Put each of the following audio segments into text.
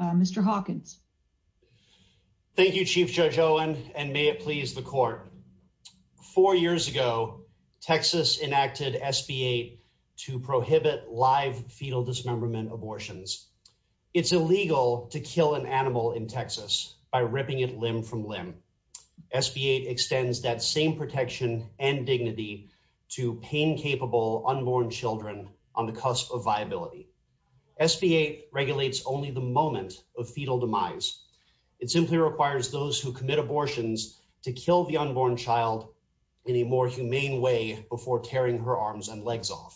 Mr. Hawkins. Thank you Chief Judge Owen and may it please the court. Four years ago Texas enacted SB 8 to prohibit live fetal dismemberment abortions. It's illegal to kill an animal in Texas by ripping it limb from limb. SB 8 extends that same protection and dignity to pain capable unborn children on the cusp of moment of fetal demise. It simply requires those who commit abortions to kill the unborn child in a more humane way before tearing her arms and legs off.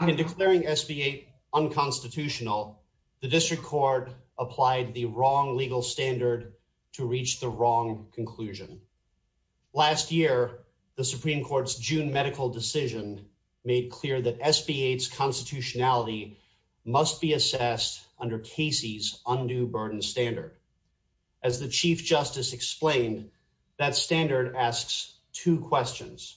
In declaring SB 8 unconstitutional the district court applied the wrong legal standard to reach the wrong conclusion. Last year the Supreme Court's June medical decision made clear that SB 8's constitutionality must be assessed under Casey's undue burden standard. As the Chief Justice explained that standard asks two questions.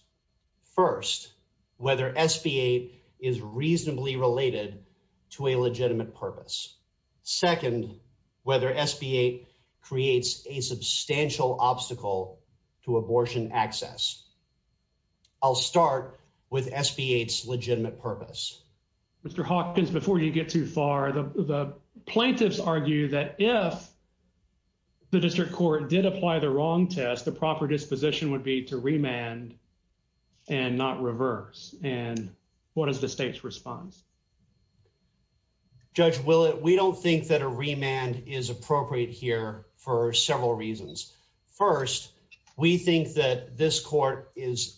First, whether SB 8 is reasonably related to a legitimate purpose. Second, whether SB 8 creates a substantial obstacle to abortion access. I'll start with SB 8's legitimate purpose. Mr. Hawkins, before you get too far the plaintiffs argue that if the district court did apply the wrong test the proper disposition would be to remand and not reverse and what is the state's response? Judge Willett, we don't think that a remand is appropriate here for several reasons. First, we think that this court is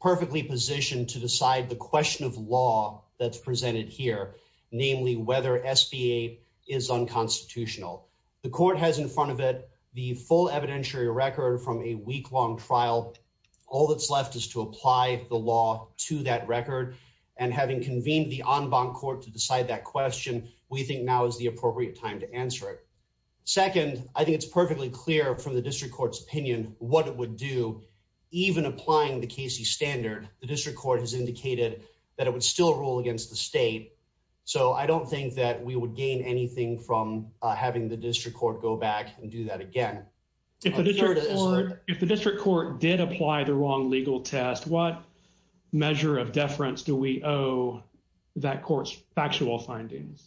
perfectly positioned to decide the question of law that's presented here, namely whether SB 8 is unconstitutional. The court has in front of it the full evidentiary record from a week-long trial. All that's left is to apply the law to that record and having convened the en banc court to decide that question we think now is the appropriate time to answer it. Second, I think it's perfectly clear from the district court's opinion what it would do even applying the Casey standard the way it did, that it would still rule against the state. So I don't think that we would gain anything from having the district court go back and do that again. If the district court did apply the wrong legal test, what measure of deference do we owe that court's factual findings?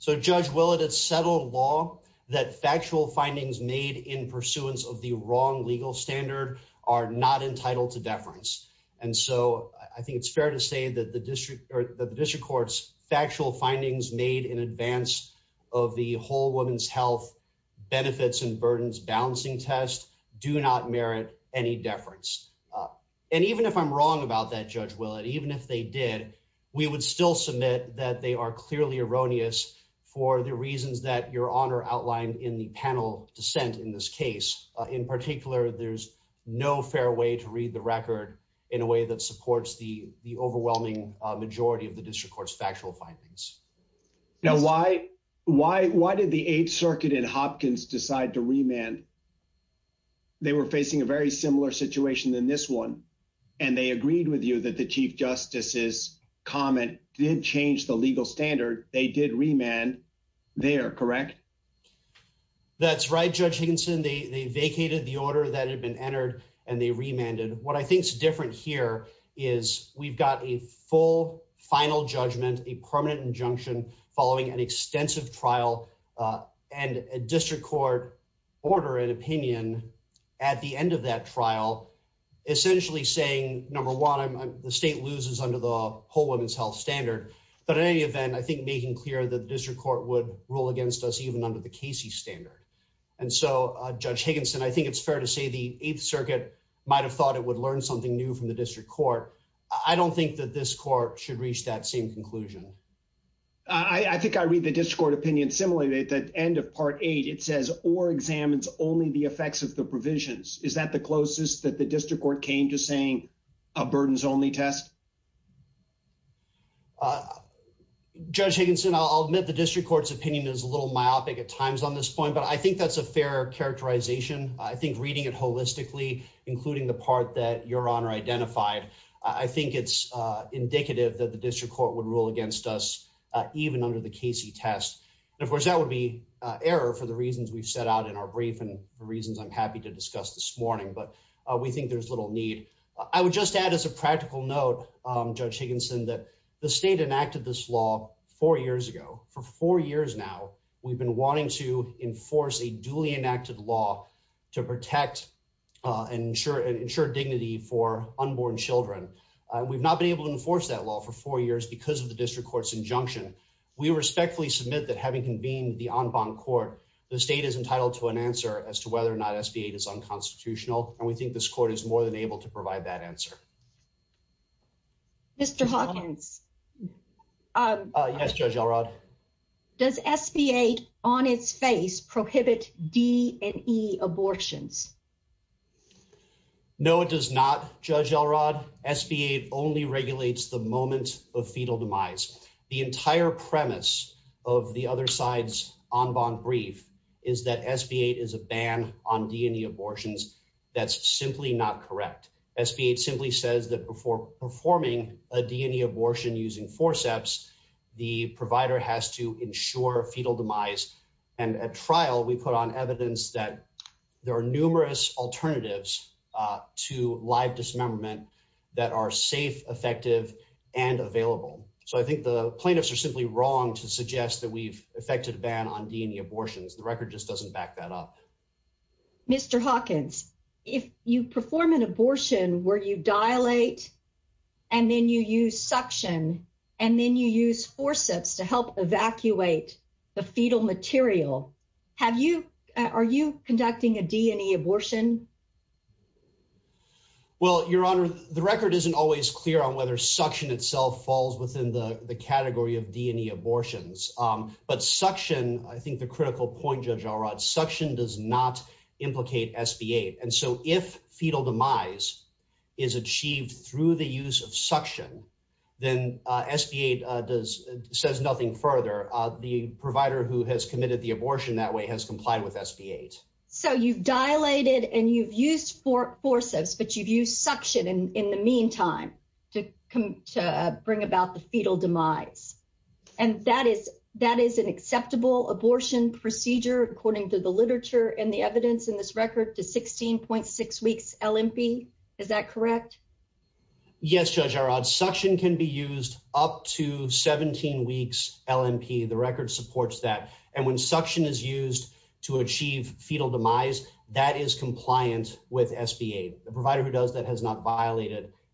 So Judge Willett, it's settled law that factual findings made in pursuance of the wrong legal standard are not entitled to deference. And so I think it's fair to say that the district or the district court's factual findings made in advance of the whole woman's health benefits and burdens balancing test do not merit any deference. And even if I'm wrong about that Judge Willett, even if they did, we would still submit that they are clearly erroneous for the reasons that your honor outlined in the dissent in this case. In particular, there's no fair way to read the record in a way that supports the the overwhelming majority of the district court's factual findings. Now why did the Eighth Circuit in Hopkins decide to remand? They were facing a very similar situation than this one, and they agreed with you that the Chief Justice's comment did change the legal standard. They did remand there, correct? That's right, Judge Higginson. They vacated the order that had been entered, and they remanded. What I think is different here is we've got a full final judgment, a permanent injunction following an extensive trial, and a district court order an opinion at the end of that trial essentially saying, number one, the state loses under the whole woman's health standard. But in any event, I think making clear the district court would rule against us even under the Casey standard. And so, Judge Higginson, I think it's fair to say the Eighth Circuit might have thought it would learn something new from the district court. I don't think that this court should reach that same conclusion. I think I read the district court opinion similarly. At the end of Part 8, it says, or examines only the effects of the provisions. Is that the closest that the district court came to saying a burdens only test? Judge Higginson, I'll admit the district court's opinion is a little myopic at times on this point, but I think that's a fair characterization. I think reading it holistically, including the part that Your Honor identified, I think it's indicative that the district court would rule against us even under the Casey test. Of course, that would be error for the reasons we've set out in our brief and the reasons I'm happy to discuss this morning, but we think there's little need. I would just add as a practical note, Judge Higginson, that the state enacted this law four years ago. For four years now, we've been wanting to enforce a duly enacted law to protect and ensure and ensure dignity for unborn Children. We've not been able to enforce that law for four years because of the district court's injunction. We respectfully submit that having convened the on bond court, the state is entitled to an answer as to more than able to provide that answer. Mr Hawkins. Uh, yes, Judge Elrod. Does SBA on its face prohibit D and E abortions? No, it does not. Judge Elrod. SBA only regulates the moments of fetal demise. The entire premise of the other side's on bond brief is that SBA is a ban on D and E abortions. That's simply not correct. SBA simply says that before performing a D and E abortion using forceps, the provider has to ensure fetal demise. And at trial, we put on evidence that there are numerous alternatives to live dismemberment that are safe, effective and available. So I think the plaintiffs are simply wrong to suggest that we've affected ban on abortions. The record just doesn't back that up. Mr Hawkins, if you perform an abortion where you dilate and then you use suction and then you use forceps to help evacuate the fetal material, have you? Are you conducting a D and E abortion? Well, Your Honor, the record isn't always clear on whether suction itself falls within the category of D and E abortions. But suction, I think the critical point, Judge Elrod, suction does not implicate SBA. And so if fetal demise is achieved through the use of suction, then SBA does says nothing further. The provider who has committed the abortion that way has complied with SBA. So you've dilated and you've used forceps, but you've used suction in the meantime to bring about the fetal demise. And that is an acceptable abortion procedure, according to the literature and the evidence in this record to 16.6 weeks LMP. Is that correct? Yes, Judge Elrod. Suction can be used up to 17 weeks LMP. The record supports that. And when suction is used to achieve fetal demise, that is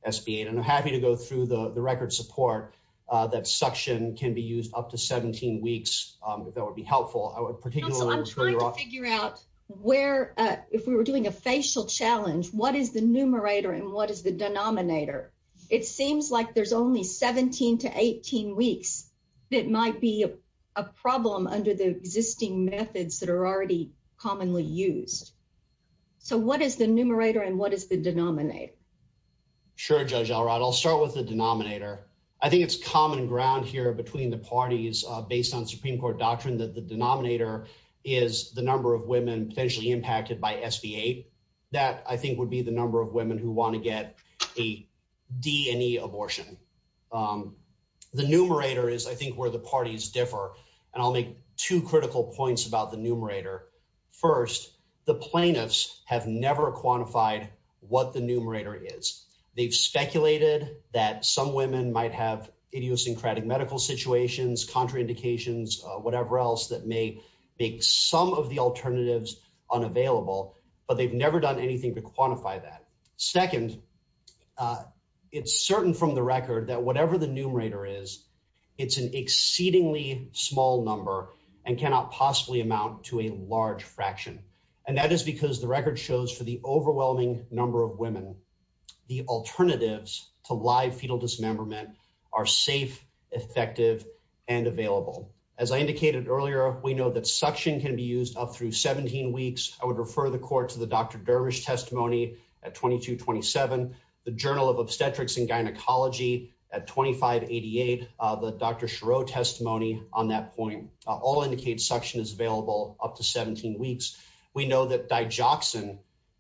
SBA. And I'm happy to go through the record support that suction can be used up to 17 weeks. That would be helpful. I would particularly want to figure out where, if we were doing a facial challenge, what is the numerator and what is the denominator? It seems like there's only 17 to 18 weeks that might be a problem under the existing methods that are already commonly used. So what is the numerator and what is the denominator? Sure, Judge Elrod. I'll start with the denominator. I think it's common ground here between the parties based on Supreme Court doctrine that the denominator is the number of women potentially impacted by SBA. That, I think, would be the number of women who want to get a D&E abortion. The numerator is, I think, where the parties differ. And I'll make two critical points about the numerator. First, the plaintiffs have never quantified what the numerator is. They've speculated that some women might have idiosyncratic medical situations, contraindications, whatever else that may make some of the alternatives unavailable. But they've never done anything to quantify that. Second, it's certain from the record that whatever the numerator is, it's an amount to a large fraction. And that is because the record shows for the overwhelming number of women, the alternatives to live fetal dismemberment are safe, effective, and available. As I indicated earlier, we know that suction can be used up through 17 weeks. I would refer the court to the Dr. Dervish testimony at 2227, the Journal of Obstetrics and Gynecology at 2588, the Dr. Chereau testimony on that point. All indicate suction is available up to 17 weeks. We know that digoxin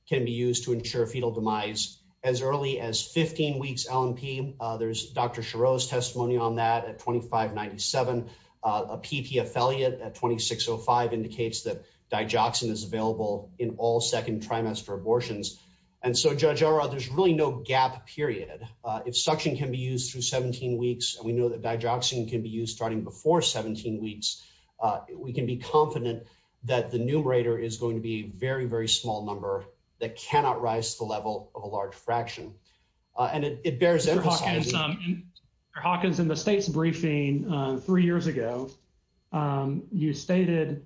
can be used to ensure fetal demise as early as 15 weeks LMP. There's Dr. Chereau's testimony on that at 2597. A PT affiliate at 2605 indicates that digoxin is available in all second trimester abortions. And so Judge O'Rourke, there's really no gap period. If suction can be used through 17 weeks, we know that digoxin can be used starting before 17 weeks. We can be confident that the numerator is going to be a very, very small number that cannot rise to the level of a large fraction. And it bears emphasizing... Dr. Hawkins, in the state's briefing three years ago, you stated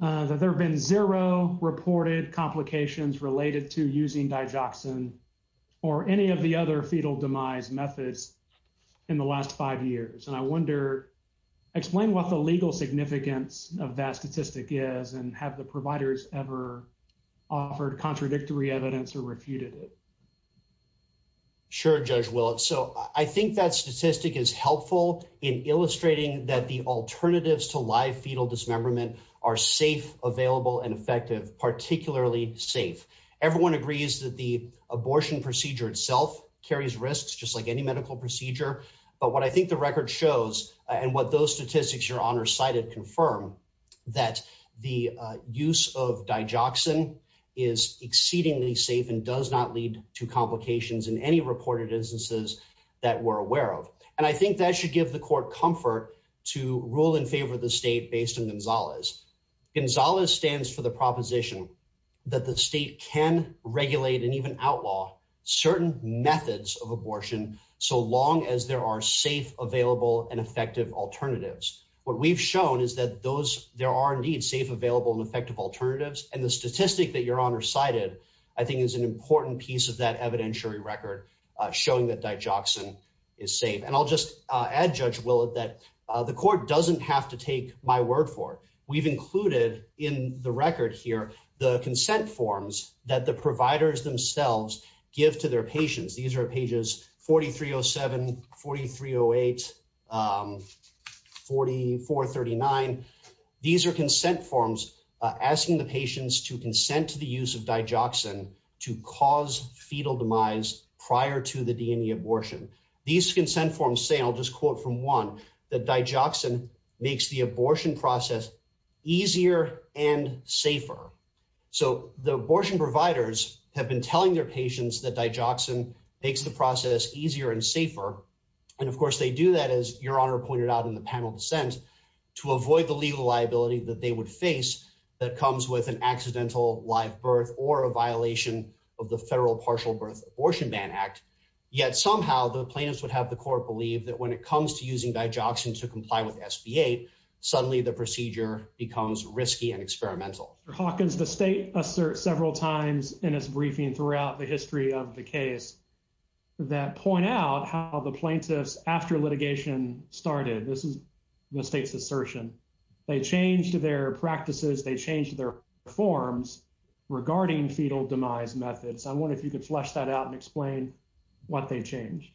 that there have been zero reported complications related to using digoxin or any of the other fetal demise methods in the last five years. And I wonder, explain what the legal significance of that statistic is and have the providers ever offered contradictory evidence or refuted it? Sure, Judge Willett. So I think that statistic is helpful in illustrating that the alternatives to live fetal dismemberment are safe, available and effective, particularly safe. Everyone agrees that the abortion procedure itself carries risks just like any medical procedure. But what I think the record shows and what those statistics Your Honor cited confirm that the use of digoxin is exceedingly safe and does not lead to complications in any reported instances that we're aware of. And I think that should give the court comfort to rule in favor of the state based on Gonzalez. Gonzalez stands for the proposition that the state can regulate and even outlaw certain methods of abortion so long as there are safe, available and effective alternatives. What we've shown is that there are indeed safe, available and effective alternatives. And the statistic that Your Honor cited, I think is an important piece of that evidentiary record showing that digoxin is safe. And I'll just add, Judge Willett, that the court doesn't have to take my word for it. We've included in the record here the consent forms that the providers themselves give to their patients. These are pages 4307, 4308, 4439. These are consent forms asking the patients to consent to the use of digoxin to cause fetal demise prior to the DNA abortion. These consent forms say, I'll easier and safer. So the abortion providers have been telling their patients that digoxin makes the process easier and safer. And of course, they do that, as Your Honor pointed out in the panel descent to avoid the legal liability that they would face that comes with an accidental live birth or a violation of the Federal Partial Birth Abortion Ban Act. Yet somehow the plaintiffs would have the court believe that when it comes to using digoxin to becomes risky and experimental. How can the state assert several times in its briefing throughout the history of the case that point out how the plaintiffs after litigation started? This is the state's assertion. They changed their practices. They changed their forms regarding fetal demise methods. I wonder if you could flesh that out and explain what they change.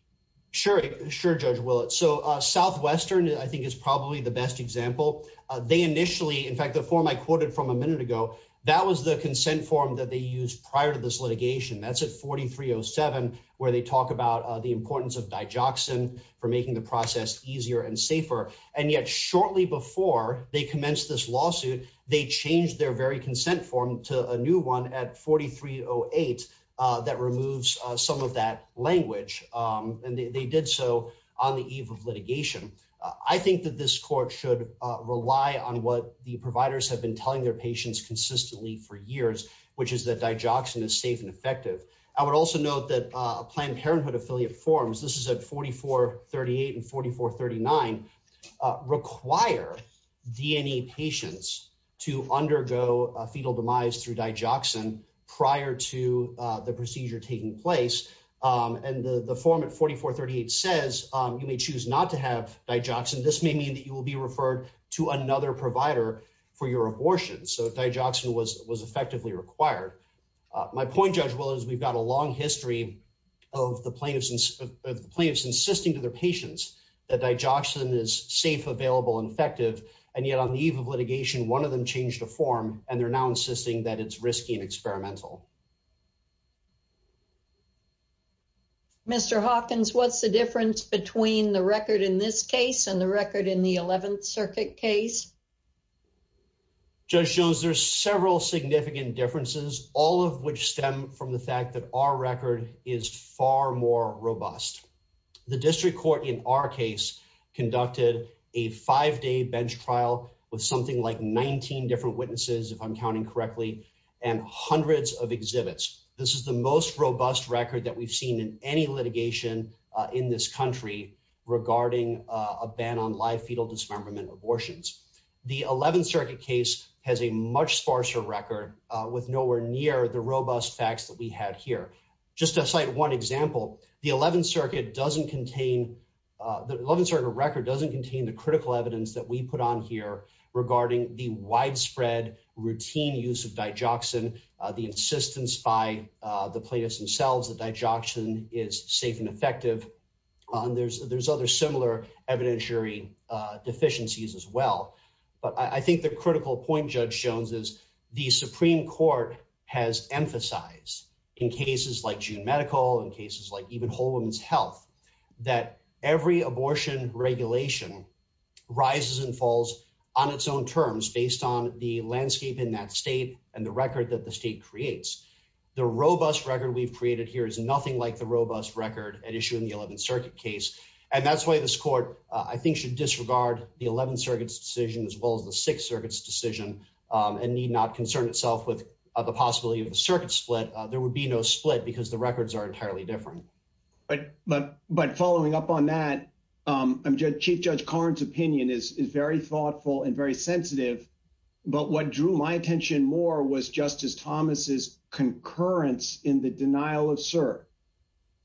Sure. Sure, Judge Stern, I think, is probably the best example. They initially, in fact, the form I quoted from a minute ago, that was the consent form that they used prior to this litigation. That's a 4307 where they talk about the importance of digoxin for making the process easier and safer. And yet shortly before they commenced this lawsuit, they changed their very consent form to a new one at 4308 that removes some of that language. Um, and they did so on the eve of I think that this court should rely on what the providers have been telling their patients consistently for years, which is that digoxin is safe and effective. I would also note that Planned Parenthood affiliate forms. This is a 44 38 and 44 39 require DNA patients to undergo fetal demise through digoxin prior to the procedure taking place. Um, and the form of 44 38 says you may choose not to have digoxin. This may mean that you will be referred to another provider for your abortion. So digoxin was was effectively required. My point, Judge, was we've got a long history of the plaintiffs, plaintiffs insisting to the patients that digoxin is safe, available, effective. And yet on the eve of litigation, one of them changed the form, and they're now insisting that it's risky and experimental. Mr Hawkins, what's the difference between the record in this case and the record in the 11th Circuit case? Just shows there's several significant differences, all of which stem from the fact that our record is far more robust. The district court in our case conducted a five day bench trial with something like 19 different witnesses, exhibits. This is the most robust record that we've seen in any litigation in this country regarding a ban on live fetal dismemberment abortions. The 11th Circuit case has a much sparser record with nowhere near the robust facts that we have here. Just to cite one example, the 11th Circuit doesn't contain the 11th Circuit record doesn't contain the critical evidence that we put on here regarding the widespread routine use of digoxin. The insistence by the plaintiffs themselves that digoxin is safe and effective. There's other similar evidentiary deficiencies as well. But I think the critical point, Judge Jones, is the Supreme Court has emphasized in cases like June Medical, in cases like even Whole Woman's Health, that every abortion regulation rises and falls on its own terms based on the landscape in that state and the record that the state creates. The robust record we've created here is nothing like the robust record at issue in the 11th Circuit case. And that's why this court, I think, should disregard the 11th Circuit's decision as well as the 6th Circuit's decision and need not concern itself with the possibility of a circuit split. There would be no split because the records are entirely different. But following up on that, Chief Judge Karn's opinion is very thoughtful and very sensitive. But what Drew my attention more was Justice Thomas's concurrence in the denial of cert.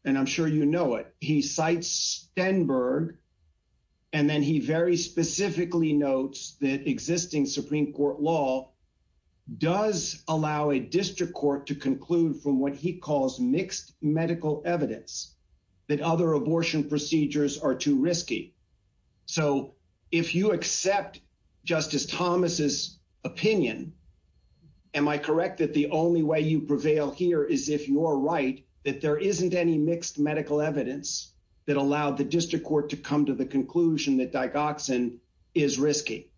And I'm sure you know it. He cites Stenberg. And then he very specifically notes that existing Supreme Court law does allow a district court to conclude from what he calls mixed medical evidence, that other abortion procedures are too Am I correct that the only way you prevail here is if you're right, that there isn't any mixed medical evidence that allowed the district court to come to the conclusion that digoxin is risky.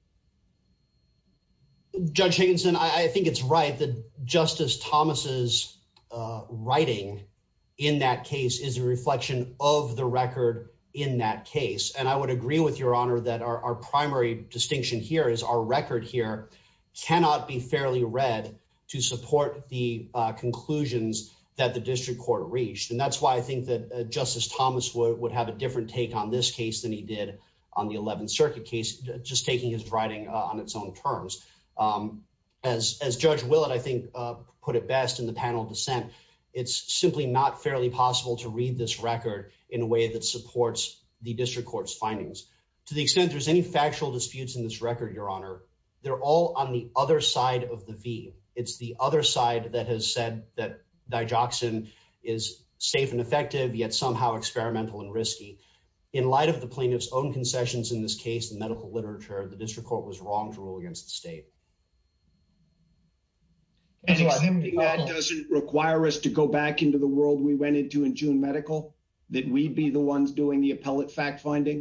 Judge Higginson, I think it's right that Justice Thomas's writing in that case is a reflection of the record in that case. And I would agree with your distinction here is our record here cannot be fairly read to support the conclusions that the district court reached. And that's why I think that Justice Thomas would have a different take on this case than he did on the 11th Circuit case, just taking his writing on its own terms. Um, as as Judge Willard, I think, put it best in the panel of dissent. It's simply not fairly possible to read this record in a way that supports the district court's findings. To the extent there's any factual disputes in this record, Your Honor, they're all on the other side of the V. It's the other side that has said that digoxin is safe and effective, yet somehow experimental and risky. In light of the plaintiff's own concessions in this case, medical literature, the district court was wrong to rule against the state. And it doesn't require us to go back into the world we went into in June medical that we'd be the ones doing the appellate fact finding.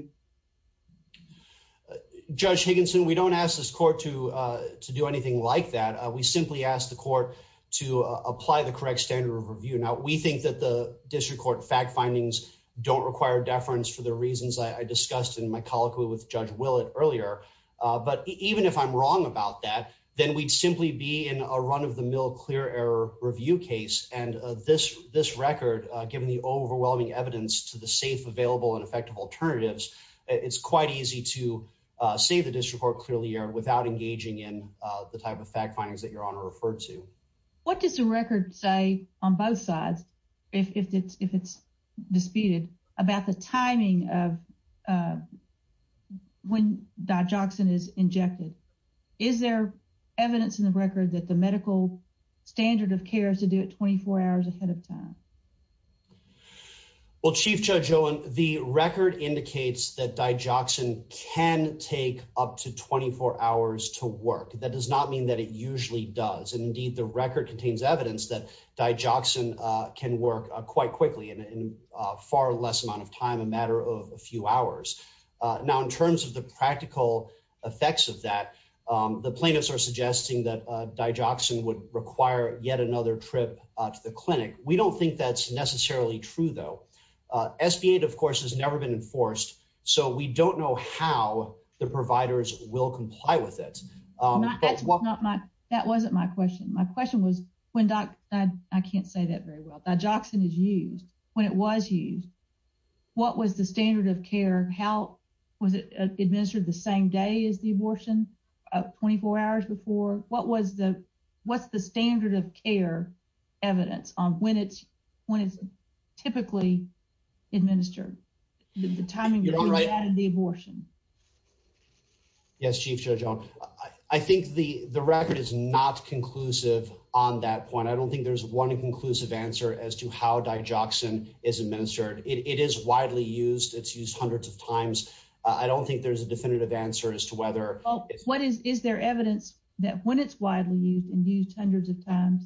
Judge Higginson, we don't ask this court to do anything like that. We simply asked the court to apply the correct standard of review. Now, we think that the district court fact findings don't require deference for the reasons I discussed in my colloquy with Judge Willard earlier. But even if I'm wrong about that, then we'd simply be in a run of the mill clear error review case. And this this record, given the overwhelming evidence to the safe, available and effective alternatives, it's quite easy to save the district court clearly here without engaging in the type of fact findings that your honor referred to. What did the record say on both sides? If it's disputed about the timing of, uh, when that Jackson is injected, is there evidence in the record that the medical standard of care is to do it 24 hours ahead of time? Well, Chief Judge Owen, the record indicates that die Jackson can take up to 24 hours to work. That does not mean that it usually does. And indeed, the record contains evidence that die Jackson can work quite quickly and far less amount of time, a matter of a few hours. Now, in terms of the practical effects of that, the plaintiffs are suggesting that die Jackson would require yet another trip to the clinic. We don't think that's necessarily true, though. Uh, S. P. Eight, of course, has never been enforced, so we don't know how the providers will comply with it. Um, well, not much. That wasn't my question. My question was when I can't say that very well. That Jackson is used when it was used. What was the standard of care? How was it administered the same day is the abortion of 24 hours before? What was the What's the standard of care evidence on when it's when it's typically administered the timing of the abortion? Yes, Chief Judge. I think the record is not conclusive on that point. I don't think there's one conclusive answer as to how die Jackson is administered. It is widely used. It's used hundreds of times. I don't think there's a definitive answer as to whether what is their evidence that when it's widely used and used hundreds of times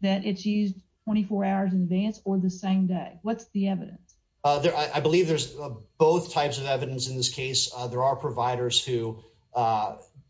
that it's used 24 hours in advance or the same day. What's the evidence? I believe there's both types of evidence. In this case, there are providers who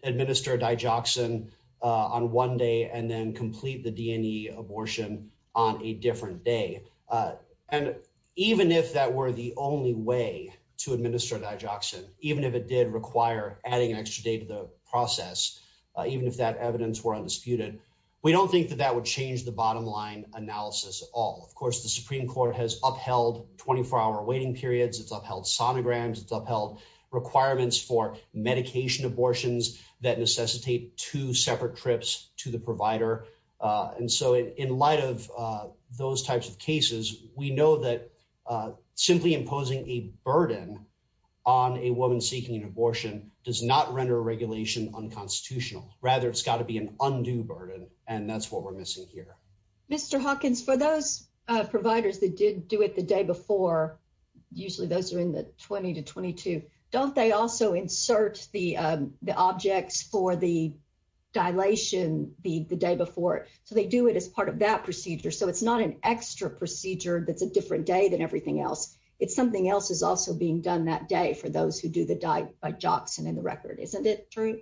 administer die Jackson on one day and then complete the D. N. E. Abortion on a different day. Uh, and even if that were the only way to administer die Jackson, even if it did require adding extra day to the process, even if that evidence were undisputed, we don't think that that would change the bottom line analysis all. Of course, the Supreme Court has upheld 24 hour waiting periods. It's upheld sonograms. It's upheld requirements for medication abortions that necessitate two separate trips to the provider. Uh, and so in light of those types of cases, we know that, uh, simply imposing a burden on a woman seeking an abortion does not render regulation unconstitutional. Rather, it's got to be an undue burden, and that's what we're missing here. Mr Hawkins, for those providers that did do it the day before, usually those are in the 20 to 22. Don't they also insert the objects for the dilation the day before they do it as part of that day than everything else? If something else is also being done that day for those who do the dive by Jackson in the record, isn't it true?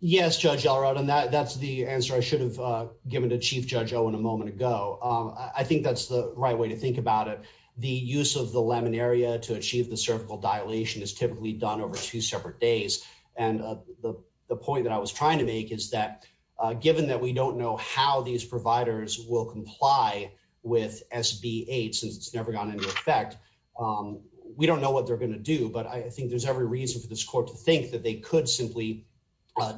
Yes, Judge Alright on that. That's the answer. I should have given the chief judge. Oh, in a moment ago, I think that's the right way to think about it. The use of the lemon area to achieve the cervical dilation is typically done over two separate days. And the point that I was trying to make is that given that we on effect, we don't know what they're gonna do. But I think there's every reason for this court to think that they could simply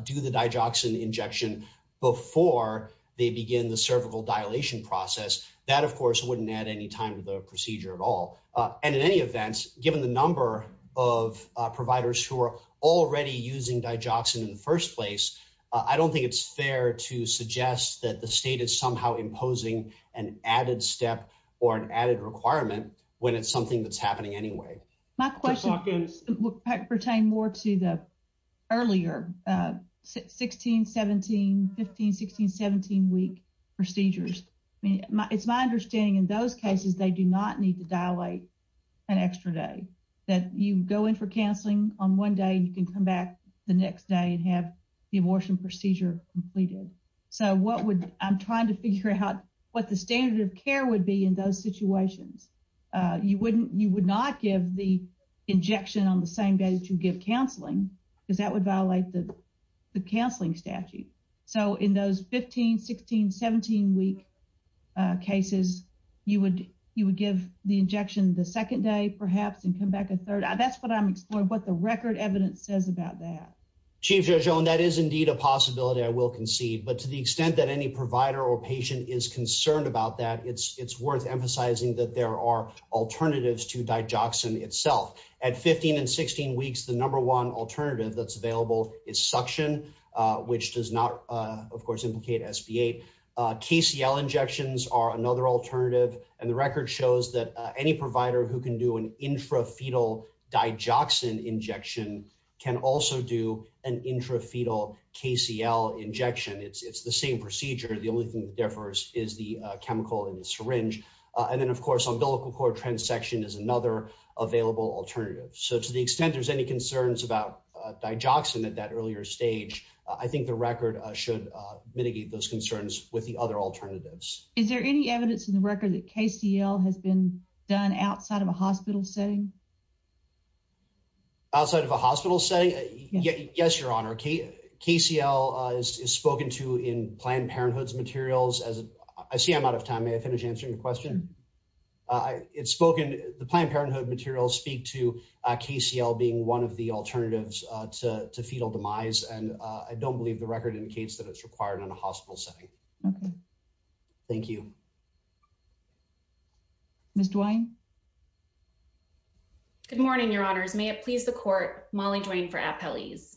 do the die Jackson injection before they begin the cervical dilation process. That, of course, wouldn't add any time to the procedure at all. And in any event, given the number of providers who are already using by Jackson in the first place, I don't think it's fair to suggest that the state is somehow imposing an added step or an added requirement when it's something that's happening anyway. My question pertain more to the earlier 16 17 15 16 17 week procedures. It's my understanding. In those cases, they do not need to dilate an extra day that you go in for counseling on one day. You can come back the next day and have the abortion procedure completed. So what would I'm what the standard of care would be in those situations? You wouldn't. You would not give the injection on the same day to give counseling that that would violate the counseling statute. So in those 15 16 17 week cases, you would. You would give the injection the second day, perhaps, and come back a third. That's what I'm exploring. But the record evidence says about that chief, you're showing that is indeed a possibility. I will concede. But to the is concerned about that. It's worth emphasizing that there are alternatives to die Jackson itself at 15 and 16 weeks. The number one alternative that's available is suction, which does not, of course, implicate S. P. A. K. C. L. Injections are another alternative, and the record shows that any provider who can do an intra fetal die Jackson injection can also do an intra fetal K. C. L. Injection. It's the same procedure. The only thing differs is the chemical and syringe. And then, of course, umbilical cord trans section is another available alternative. So to the extent there's any concerns about die Jackson at that earlier stage, I think the record should mitigate those concerns with the other alternatives. Is there any evidence in the record that K. C. L. Has been done outside of a hospital setting outside of a hospital setting? Yes, Your Honor. K. C. L. Is spoken to in Planned Parenthood's materials as I see. I'm out of time. May I finish answering your question? It's spoken. The Planned Parenthood materials speak to K. C. L. Being one of the alternatives to fetal demise, and I don't believe the record indicates that it's required in a hospital setting. Thank you. Mr Wine. Good morning, Your Honors. May it please the court Molly Dwayne for appellees.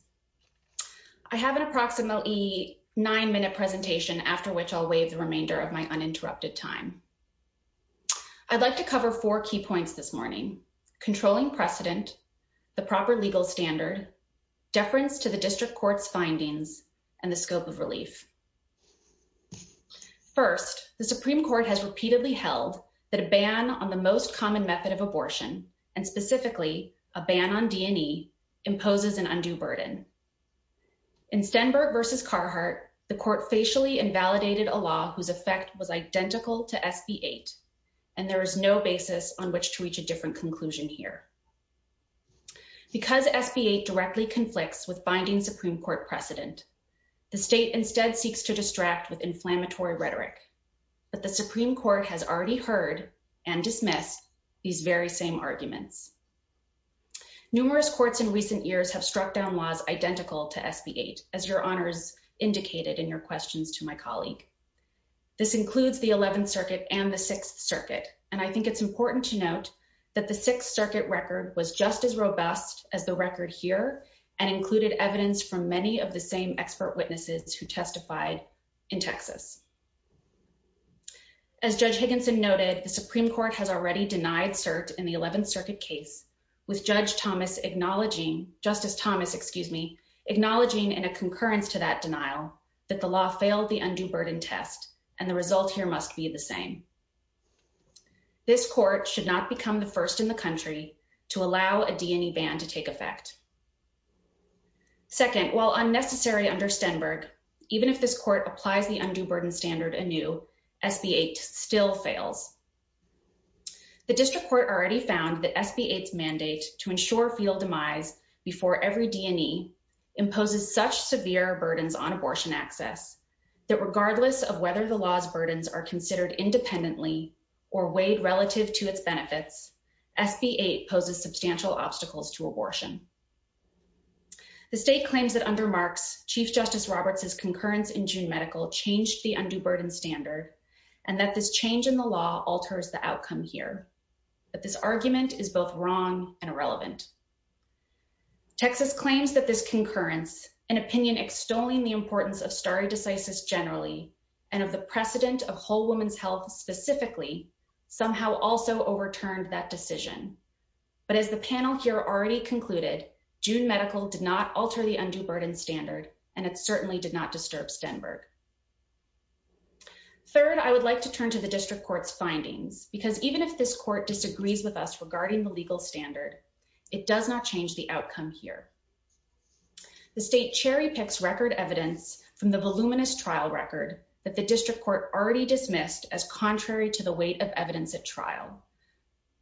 I have an approximately nine minute presentation, after which always remainder of my uninterrupted time. I'd like to cover four key points this morning. Controlling precedent, the proper legal standard deference to the district court's findings and the scope of relief. First, the Supreme Court has repeatedly held that a ban on the most common method of abortion, and specifically a ban on D. N. E. Imposes an undue burden. Incember versus Carhartt, the court facially invalidated a law whose effect was identical to F B eight. And there is no basis on which to reach a different conclusion here. Because F B eight directly conflicts with finding Supreme Court precedent. The state instead seeks to distract with inflammatory rhetoric. But the these very same argument numerous courts in recent years have struck down laws identical to F B eight as your honors indicated in your questions to my colleague. This includes the 11th Circuit and the Sixth Circuit, and I think it's important to note that the Sixth Circuit record was just as robust as the record here and included evidence from many of the same expert witnesses who testified in Texas. As Judge Higginson noted, the Supreme Court has already denied search in the 11th Circuit case, with Judge Thomas acknowledging Justice Thomas, excuse me, acknowledging in a concurrence to that denial that the law failed the undue burden test, and the results here must be the same. This court should not become the first in the country to allow a D. N. E. Ban to take effect. Second, while unnecessary under Stenberg, even if this court applies the burden standard a new F B eight still failed. The district court already found the F B eight mandate to ensure field demise before every D. N. E. Imposes such severe burdens on abortion access that regardless of whether the laws burdens are considered independently or weighed relative to its benefits, F B eight poses substantial obstacles to abortion. The state claims that under marks Chief Justice Roberts is concurrence in June medical changed the undue burden standard, and that this change in the law alters the outcome here. But this argument is both wrong and irrelevant. Texas claims that this concurrence, an opinion extolling the importance of stardecisis generally, and of the precedent of whole woman's health specifically, somehow also overturned that decision. But as the panel here already concluded, June medical did not alter the undue burden standard. Third, I would like to turn to the district court finding because even if this court disagrees with us regarding the legal standard, it does not change the outcome here. The state cherry picks record evidence from the voluminous trial record that the district court already dismissed as contrary to the weight of evidence at trial.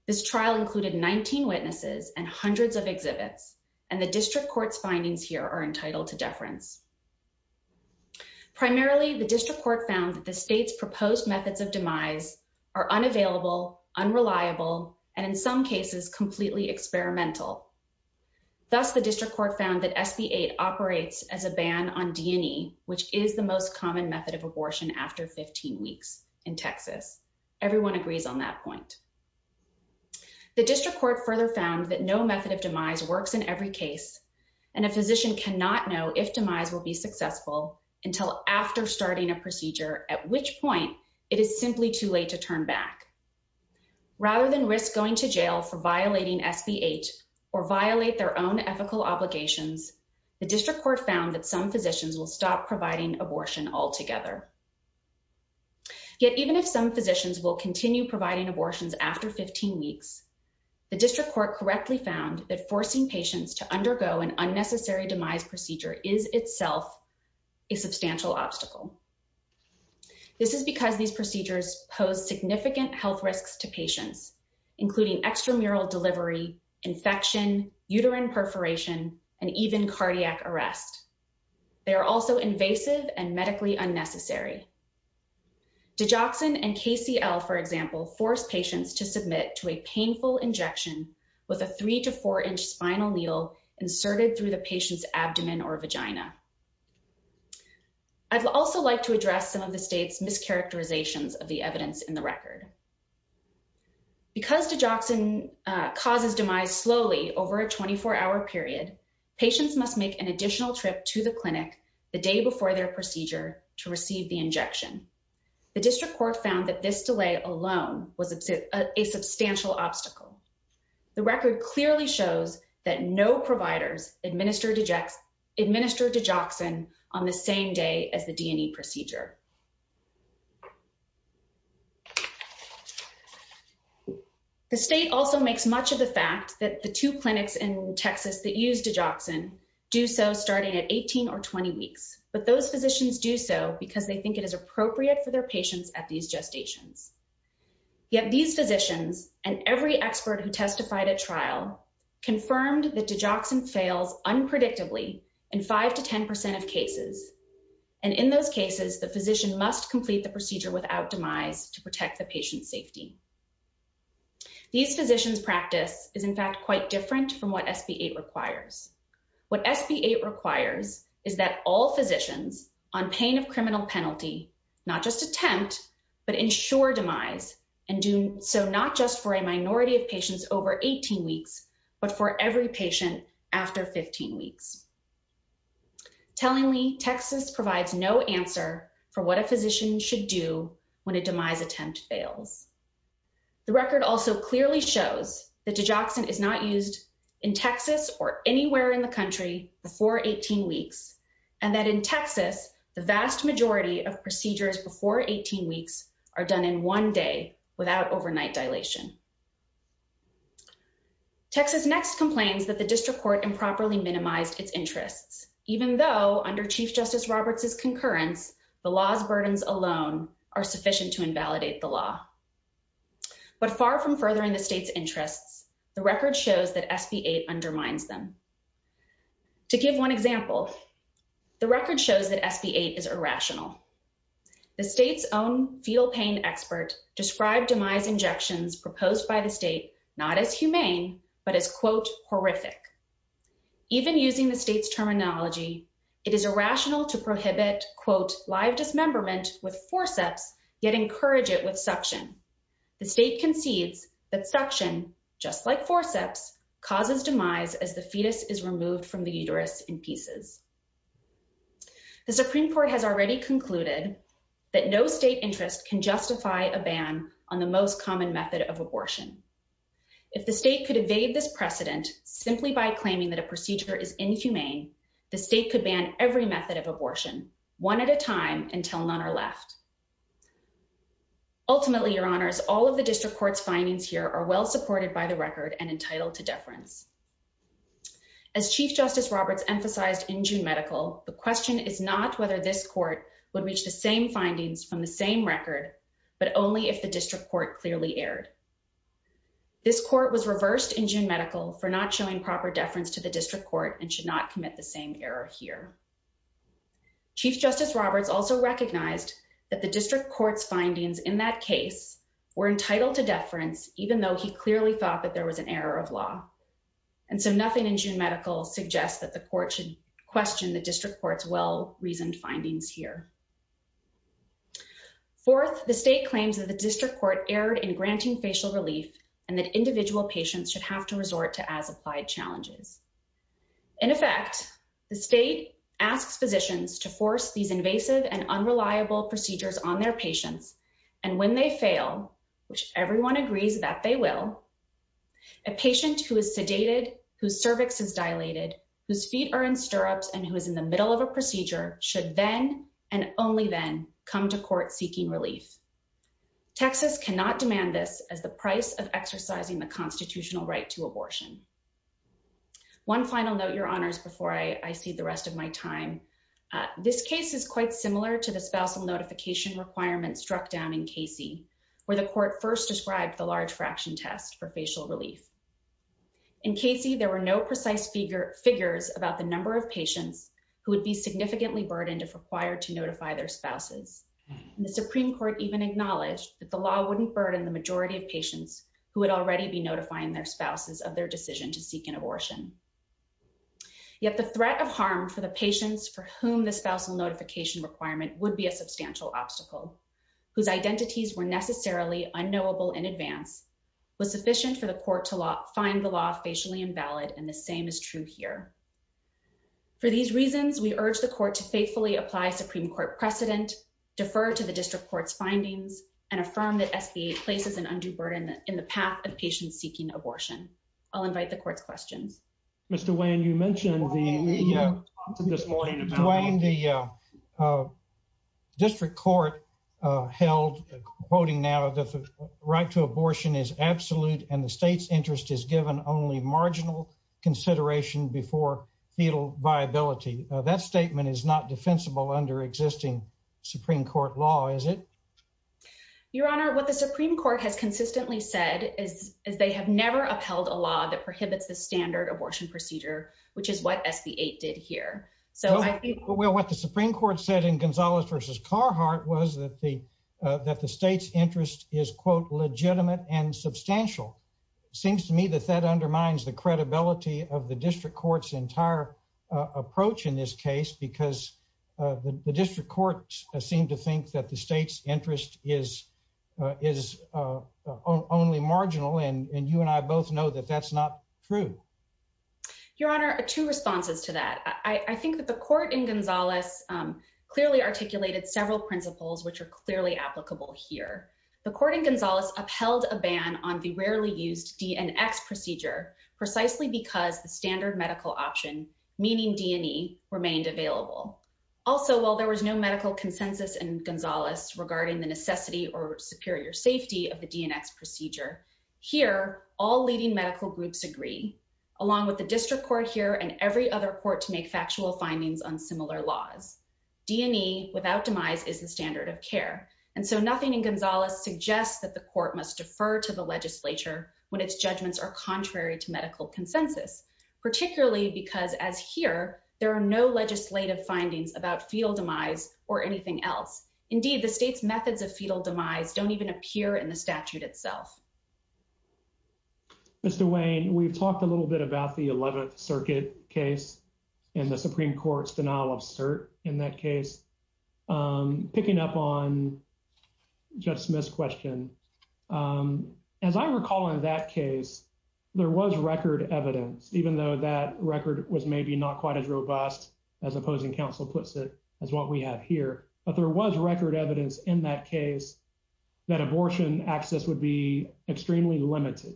This trial included 19 witnesses and hundreds of exhibits, and the district court findings here are entitled to deference. Primarily, the district court found that the state's proposed methods of demise are unavailable, unreliable, and in some cases, completely experimental. Thus, the district court found that SB-8 operates as a ban on D&E, which is the most common method of abortion after 15 weeks in Texas. Everyone agrees on that point. The district court further found that no method of demise works in every case, and a physician cannot know if demise will be successful until after starting a procedure, at which point it is simply too late to turn back. Rather than risk going to jail for violating SB-8 or violate their own ethical obligations, the district court found that some physicians will stop providing abortion altogether. Yet even if some physicians will continue providing abortions after 15 weeks, the district court correctly found that forcing patients to undergo an unnecessary demise procedure is itself a substantial obstacle. This is because these procedures pose significant health risks to patients, including extramural delivery, infection, uterine perforation, and even cardiac arrest. They are also invasive and medically unnecessary. Digoxin and KCL, for example, force patients to submit to a painful injection with a three to four inch spinal needle inserted through the patient's abdomen or vagina. I'd also like to address some of the state's mischaracterizations of the evidence in the record. Because digoxin causes demise slowly over a 24-hour period, patients must make an additional trip to the clinic the day before their procedure to receive the injection. The district court found that this delay alone was a substantial obstacle. The record clearly shows that no providers administered digoxin on the same day as the D&E procedure. The state also makes much of the fact that the two clinics in Texas that use digoxin do so starting at 18 or 20 weeks, but those physicians do so because they think it is appropriate for their patients at these gestations. Yet these physicians and every expert who testified at trial confirmed that digoxin fails unpredictably in five to 10% of cases, and in those cases, the physician must complete the procedure without demise to protect the patient's safety. These physicians' practice is, in fact, quite different from what SB-8 requires. What SB-8 requires is that all physicians on pain of criminal penalty not just attempt, but ensure demise and do so not just for a minority of patients over 18 weeks, but for every patient after 15 weeks. Tellingly, Texas provides no answer for what a physician should do when a demise attempt fails. The record also clearly shows that digoxin is not used in Texas or anywhere in the country before 18 weeks, and that in Texas, the vast majority of procedures before 18 weeks are done in one day without overnight dilation. Texas next complains that the district court improperly minimized its interest, even though under Chief Justice Roberts' concurrence, the law's burdens alone are sufficient to invalidate the law. But far from furthering the state's interest, the record shows that SB-8 undermines them. To give one example, the record shows that SB-8 is irrational. The state's own fetal pain expert described demise injections proposed by the state not as humane, but as, quote, horrific. Even using the state's terminology, it is irrational to prohibit, quote, live dismemberment with forceps, yet encourage it with suction. The state concedes that suction, just like forceps, causes demise as the fetus is removed from the uterus in pieces. The Supreme Court has already concluded that no state interest can justify a ban on the most common method of abortion. If the state could evade this precedent simply by claiming that a procedure is inhumane, the state could ban every method of abortion, one at a time, until none are left. Ultimately, Your Honors, all of the district court's findings here are well supported by the record and entitled to deference. As Chief Justice Roberts emphasized in June Medical, the question is not whether this court would reach the same findings from the same record, but only if the district court clearly erred. This court was reversed in June Medical for not showing proper deference to the district court and should not commit the same error here. Chief Justice Roberts also recognized that the district court's findings in that case were entitled to deference, even though he clearly thought that there was an error of law. And so nothing in June Medical suggests that the court should question the district court's well-reasoned findings here. Fourth, the state claims that the district court erred in granting facial relief and that individual patients should have to resort to as-applied challenges. In effect, the state asks physicians to force these invasive and unreliable procedures on their patients, and when they fail, which everyone agrees that they will, a patient who is sedated, whose cervix is dilated, whose feet are in stirrups, and who is in the middle of a procedure should then and only then come to court seeking relief. Texas cannot demand this at the price of exercising the constitutional right to abortion. One final note, Your Honors, before I cede the rest of my time, this case is quite similar to the spousal notification requirement struck down in Casey, where the court first described the large fraction test for facial relief. In Casey, there were no precise figures about the number of patients who would be significantly burdened if required to notify their spouses. The Supreme Court even acknowledged that the law wouldn't burden the majority of patients who would already be notifying their spouses of their decision to seek an abortion. Yet the threat of harm for the patients for whom the spousal notification requirement would be a substantial obstacle, whose identities were necessarily unknowable in advance, was sufficient for the court to find the law facially invalid, and the same is true here. For these reasons, we urge the court to faithfully apply Supreme Court precedent, defer to the district court's findings, and affirm that SBA places an undue burden in the path of patients seeking abortion. I'll invite the court's question. Mr. Wayne, you mentioned the district court held, quoting now, that the right to abortion is absolute and the state's interest is given only marginal consideration before fetal viability. That statement is not defensible under existing Supreme Court law, is it? Your Honor, what the Supreme Court has consistently said is they have never upheld a law that prohibits the standard abortion procedure, which is what SBA did here. So I think- Well, what the Supreme Court said in Gonzalez versus Carhartt was that the state's interest is, quote, legitimate and substantial. Seems to me that that undermines the credibility of the district court's entire approach in this case, because the district courts seem to think that the district courts know that that's not true. Your Honor, two responses to that. I think that the court in Gonzalez clearly articulated several principles which are clearly applicable here. The court in Gonzalez upheld a ban on the rarely used DNX procedure precisely because the standard medical option, meaning D&E, remained available. Also, while there was no medical consensus in Gonzalez regarding the necessity or superior safety of the DNX procedure, here, all leading medical groups agree, along with the district court here and every other court to make factual findings on similar laws. D&E without demise is the standard of care, and so nothing in Gonzalez suggests that the court must defer to the legislature when its judgments are contrary to medical consensus, particularly because, as here, there are no legislative findings about fetal demise or anything else. Indeed, the state's methods of fetal demise don't even appear in the statute itself. Mr. Wayne, we've talked a little bit about the 11th Circuit case and the Supreme Court's denial of cert in that case. Picking up on Jeff Smith's question, as I recall in that case, there was record evidence, even though that record was maybe not quite as robust, as opposing counsel puts it, as what we have here, but there was record evidence in that case that abortion access would be extremely limited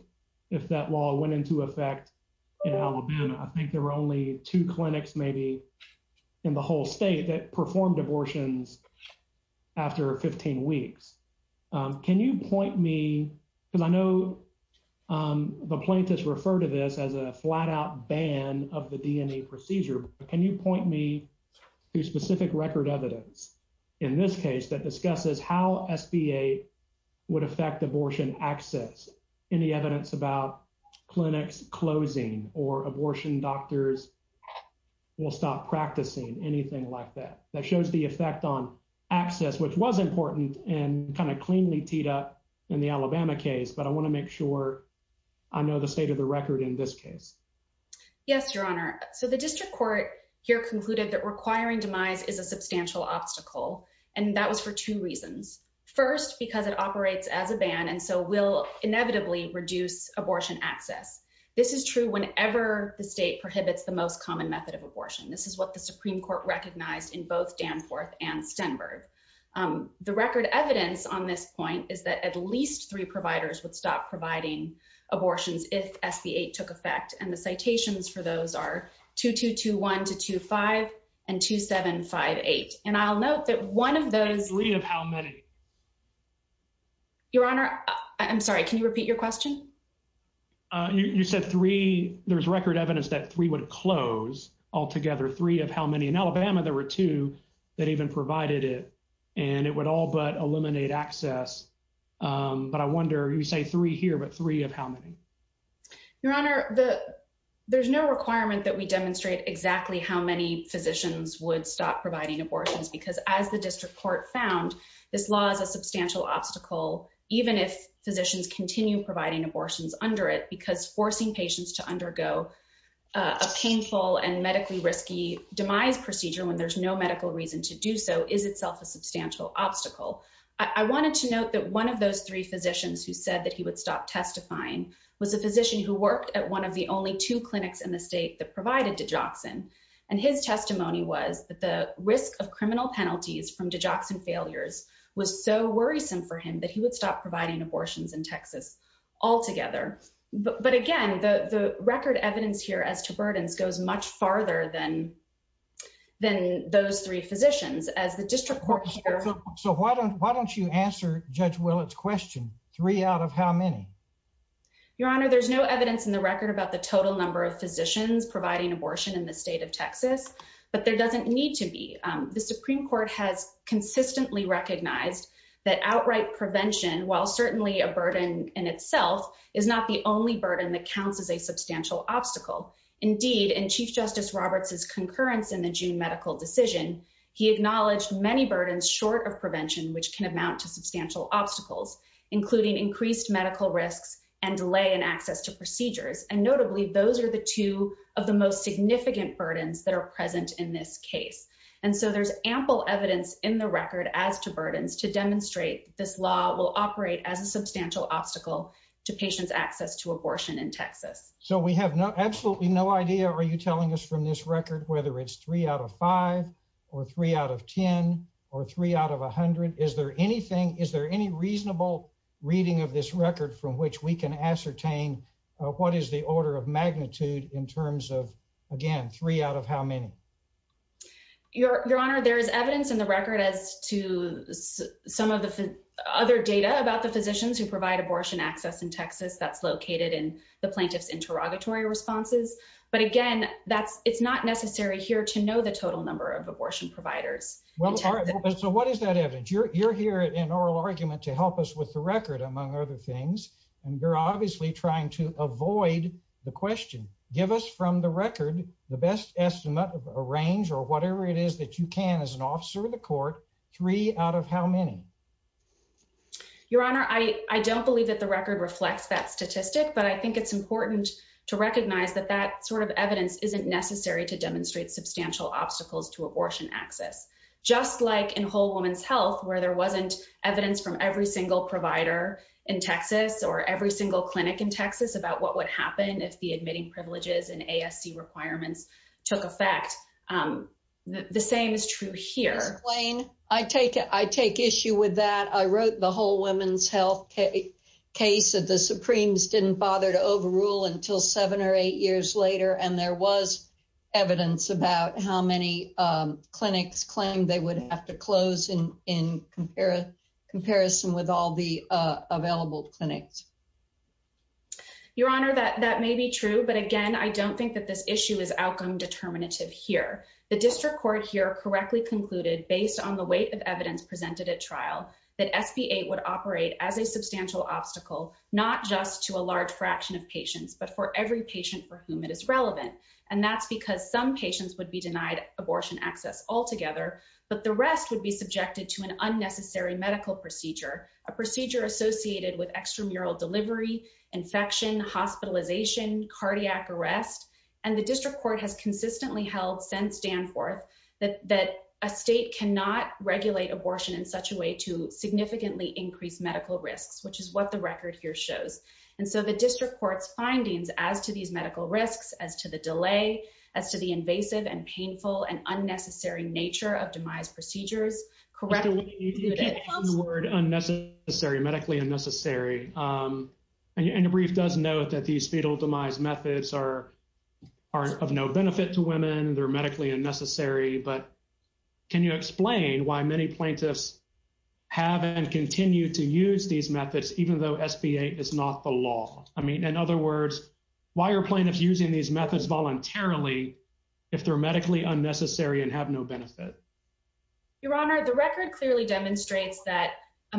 if that law went into effect. I think there were only two clinics, maybe, in the whole state that performed abortions after 15 weeks. Can you point me, because I know the plaintiffs refer to this as a flat-out ban of the D&E procedure, but can you point me to specific record evidence in this case that discusses how SBA would affect abortion access in the evidence about clinics closing or abortion doctors will stop practicing, anything like that, that shows the effect on access, which was important and kind of cleanly teed up in the Alabama case, but I want to make sure I know the state of the record in this case. Yes, Your Honor, so the district court here concluded that requiring demise is a substantial obstacle, and that was for two reasons. First, because it operates as a ban and so will inevitably reduce abortion access. This is true whenever the state prohibits the most common method of abortion. This is what the Supreme Court recognized in both Danforth and Stenberg. The record evidence on this point is that at least three providers would stop providing abortions if SB 8 took effect, and the citations for those are 2221 to 25 and 2758, and I'll note that one of those... Three of how many? Your Honor, I'm sorry, can you repeat your question? You said three, there's record evidence that three would close altogether, three of how many? In Alabama, there were two that even provided it, and it would all but eliminate access. But I wonder, you say three here, but three of how many? Your Honor, there's no requirement that we demonstrate exactly how many physicians would stop providing abortions, because as the district court found, this law is a substantial obstacle, even if physicians continue providing abortions under it, because forcing patients to undergo a painful and medically risky demise procedure when there's no medical reason to do so is itself a substantial obstacle. I wanted to note that one of those three physicians who said that he would stop testifying was a physician who worked at one of the only two clinics in the state that provided Digoxin, and his testimony was that the risk of criminal penalties from Digoxin failures was so worrisome for him that he would stop providing abortions in Texas altogether. But again, the record evidence here as to burdens goes much farther than those three physicians, as the district court... So why don't you answer Judge Willett's question, three out of how many? Your Honor, there's no evidence in the record about the total number of physicians providing abortion in the state of Texas, but there doesn't need to be. The Supreme Court has consistently recognized that outright prevention, while certainly a burden in itself, is not the only burden that counts as a substantial obstacle. Indeed, in Chief Justice Roberts's concurrence in the June medical decision, he acknowledged many burdens short of prevention, which can amount to substantial obstacles, including increased medical risks and delay in access to procedures. And notably, those are the two of the most significant burdens that are present in this case. And so there's ample evidence in the record as to burdens to demonstrate this law will operate as a substantial obstacle to patients' access to abortion in Texas. So we have absolutely no idea, are you telling us from this record, whether it's three out of five or three out of 10 or three out of 100? Is there anything, is there any reasonable reading of this record from which we can ascertain what is the order of magnitude in terms of, again, three out of how many? Your Honor, there is evidence in the record as to some of the other data about the physicians who provide abortion access in Texas that's located in the plaintiff's derogatory responses. But again, that's it's not necessary here to know the total number of abortion providers. Well, so what is that evidence? You're here in oral argument to help us with the record, among other things, and you're obviously trying to avoid the question. Give us from the record the best estimate of a range or whatever it is that you can as an officer of the court, three out of how many? Your Honor, I don't believe that the record reflects that statistic, but I think it's important to recognize that that sort of evidence isn't necessary to demonstrate substantial obstacles to abortion access, just like in Whole Woman's Health, where there wasn't evidence from every single provider in Texas or every single clinic in Texas about what would happen if the admitting privileges and ASC requirements took effect. The same is true here. Wayne, I take it. I take issue with that. I wrote the Whole Woman's Health case that the Supremes didn't bother to overrule until seven or eight years later. And there was evidence about how many clinics claimed they would have to close in comparison with all the available clinics. Your Honor, that may be true, but again, I don't think that this issue is outcome determinative here. The district court here correctly concluded, based on the weight of evidence presented at trial, that FDA would operate as a substantial obstacle, not just to a large fraction of patients, but for every patient for whom it is relevant. And that's because some patients would be denied abortion access altogether, but the rest would be subjected to an unnecessary medical procedure, a procedure associated with extramural delivery, infection, hospitalization, cardiac arrest. And the district court has consistently held since Danforth that a state cannot regulate abortion in such a way to significantly increase medical risks, which is what the record here shows. And so the district court's findings as to these medical risks, as to the delay, as to the invasive and painful and unnecessary nature of demise procedures, correct me if I'm wrong. Unnecessary, medically unnecessary. And the brief does note that these fetal demise methods are of no benefit to women. They're medically unnecessary. But can you explain why many plaintiffs have and continue to use these methods, even though SBA is not the law? I mean, in other words, why are plaintiffs using these methods voluntarily if they're medically unnecessary and have no benefit? Your Honor, the record clearly demonstrates that a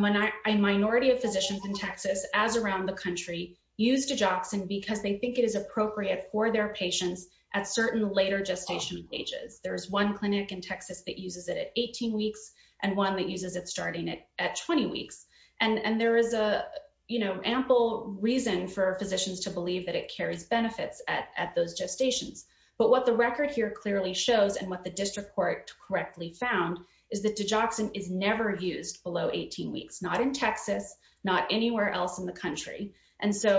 minority of physicians in Texas, as around the country, use Dijoxin because they think it is appropriate for their patients at certain later gestation stages. There is one clinic in Texas that uses it at 18 weeks and one that uses it starting at 20 weeks. And there is a, you know, ample reason for physicians to believe that it carries benefits at those gestations. But what the record here clearly shows and what the district court correctly found is that Dijoxin is never used below 18 weeks, not in Texas, not anywhere else in the state of Texas. So it's not that it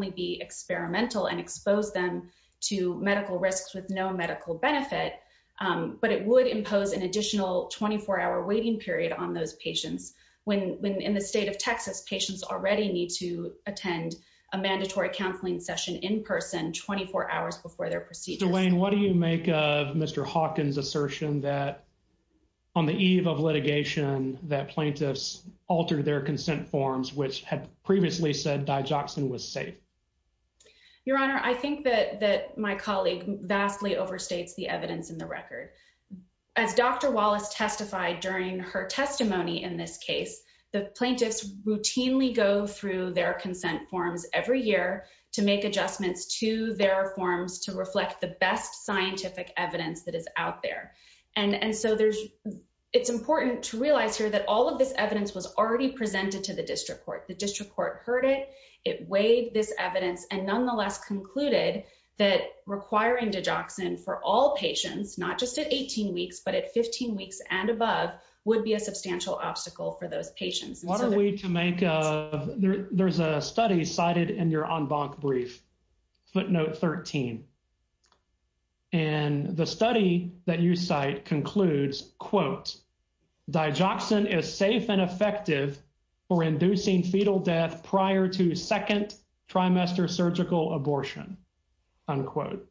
would be harmful and expose them to medical risks with no medical benefit, but it would impose an additional 24 hour waiting period on those patients. When in the state of Texas, patients already need to attend a mandatory counseling session in person 24 hours before their procedure. Dwayne, what do you make of Mr. Hawkins' assertion that on the eve of litigation that plaintiffs altered their consent forms, which had previously said Dijoxin was safe? Your Honor, I think that my colleague vastly overstates the evidence in the record. As Dr. Wallace testified during her testimony in this case, the plaintiffs routinely go through their consent forms every year to make adjustments to their forms to reflect the best scientific evidence that is out there. And so it's important to realize here that all of this evidence was already presented to the district court. The district court heard it. It weighed this evidence and nonetheless concluded that requiring Dijoxin for all patients, not just at 18 weeks, but at 15 weeks and above, would be a substantial obstacle for those patients. What are we to make of, there's a study cited in your en banc brief, footnote 13. And the study that you cite concludes, quote, Dijoxin is safe and effective for reducing fetal death prior to the second trimester surgical abortion, unquote.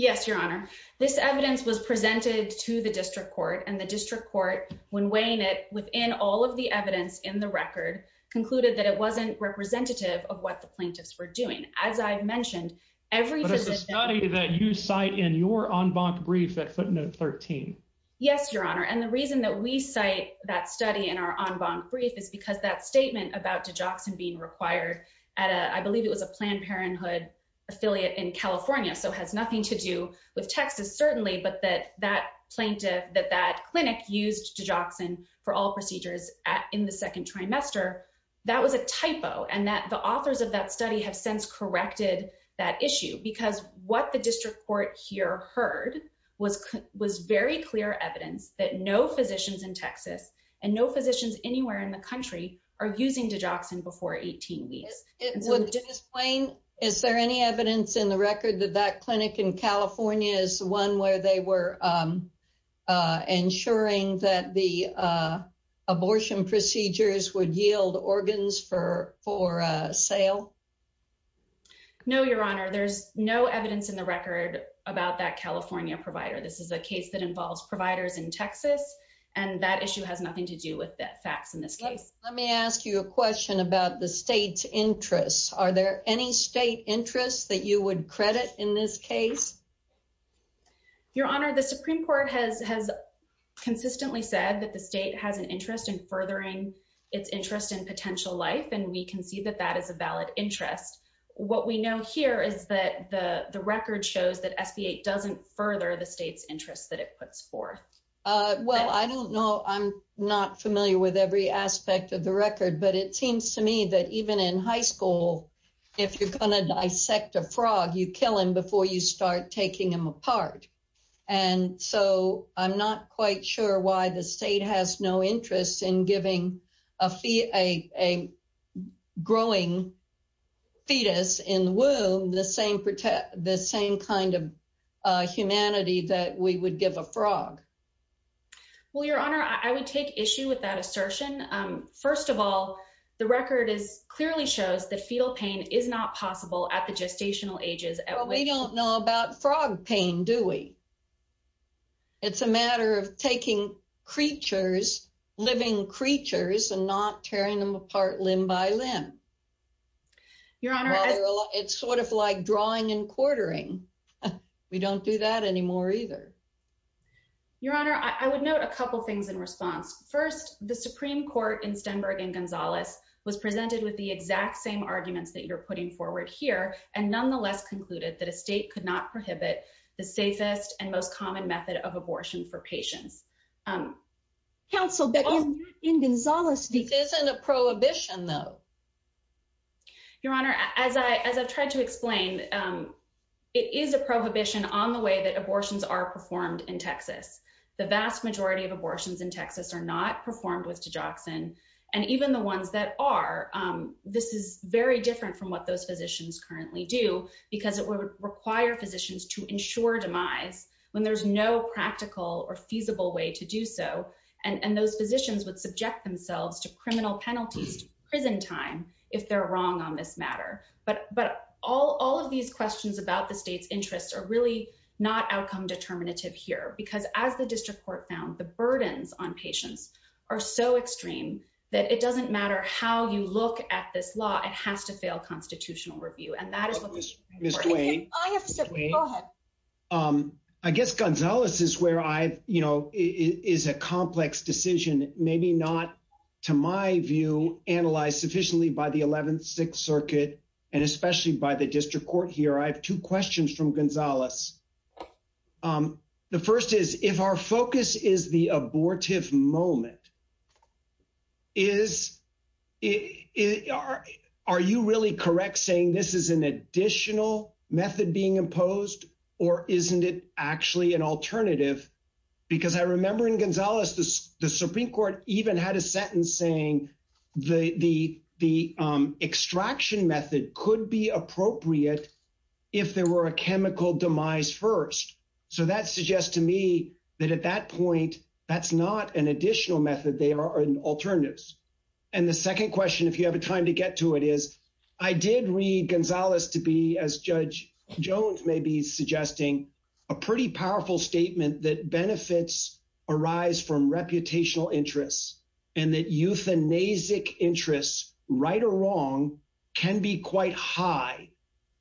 Yes, Your Honor, this evidence was presented to the district court and the district court when weighing it within all of the evidence in the record concluded that it wasn't representative of what the plaintiffs were doing. As I've mentioned, every position that you cite in your en banc brief that footnote 13. Yes, Your Honor, and the reason that we cite that study in our en banc brief is because that statement about Dijoxin being required at, I believe it was a Planned Parenthood affiliate in California. So has nothing to do with Texas, certainly, but that that plaintiff, that that clinic used Dijoxin for all procedures in the second trimester. That was a typo and that the authors of that study have since corrected that issue because what the district court here heard was was very clear evidence that no physicians in Texas and no physicians anywhere in the country are using Dijoxin before 18 years. It would explain. Is there any evidence in the record that that clinic in California is the one where they were ensuring that the abortion procedures would yield organs for for sale? No, Your Honor, there's no evidence in the record about that California provider. This is a case that involves providers in Texas, and that issue has nothing to do with that fact. And let me ask you a question about the state's interests. Are there any state interests that you would credit in this case? Your Honor, the Supreme Court has consistently said that the state has an interest in furthering its interest in potential life, and we can see that that is a valid interest. What we know here is that the record shows that FDA doesn't further the state's interest that it puts forth. Well, I don't know. I'm not familiar with every aspect of the record, but it seems to me that even in high school, if you're going to dissect a frog, you kill him before you start taking him apart. And so I'm not quite sure why the state has no interest in giving a fee, a growing fetus in the womb, the same the same kind of humanity that we would give a frog. Well, Your Honor, I would take issue with that assertion. First of all, the record clearly shows the fetal pain is not possible at the gestational ages. We don't know about frog pain, do we? It's a matter of taking creatures, living creatures and not tearing them apart limb by limb. Your Honor, it's sort of like drawing and quartering. We don't do that anymore either. Your Honor, I would note a couple of things in response. First, the Supreme Court in Stenberg and Gonzalez was presented with the exact same arguments that you're putting forward here and nonetheless concluded that a state could not prohibit the safest and most common method of abortion for patients. Counsel, but in Gonzalez, isn't a prohibition, though. Your Honor, as I tried to explain, it is a prohibition on the way that abortions are performed in Texas. The vast majority of abortions in Texas are not performed with digoxin and even the ones that are. This is very different from what those physicians currently do because it would require physicians to ensure demise when there's no practical or feasible way to do so. And those physicians would subject themselves to criminal penalties, prison time if they're wrong on this matter. But but all of these questions about the state's interests are really not outcome determinative here because as the district court found, the burdens on patients are so extreme that it doesn't matter how you look at this law. It has to fail constitutional review. And that is the way I guess Gonzalez is where I, you know, is a complex decision, maybe not to my view, analyzed sufficiently by the 11th Circuit and especially by the district court here. I have two questions from Gonzalez. The first is, if our focus is the abortive moment. Is it are are you really correct saying this is an additional method being imposed or isn't it actually an alternative? Because I remember in Gonzalez, the Supreme Court even had a sentence saying the the extraction method could be appropriate if there were a chemical demise first. So that suggests to me that at that point, that's not an additional method. They are alternatives. And the second question, if you have a time to get to it, is I did read Gonzalez to be, as Judge Jones may be suggesting, a pretty powerful statement that benefits arise from reputational interests and that euthanasic interests, right or wrong, can be quite high.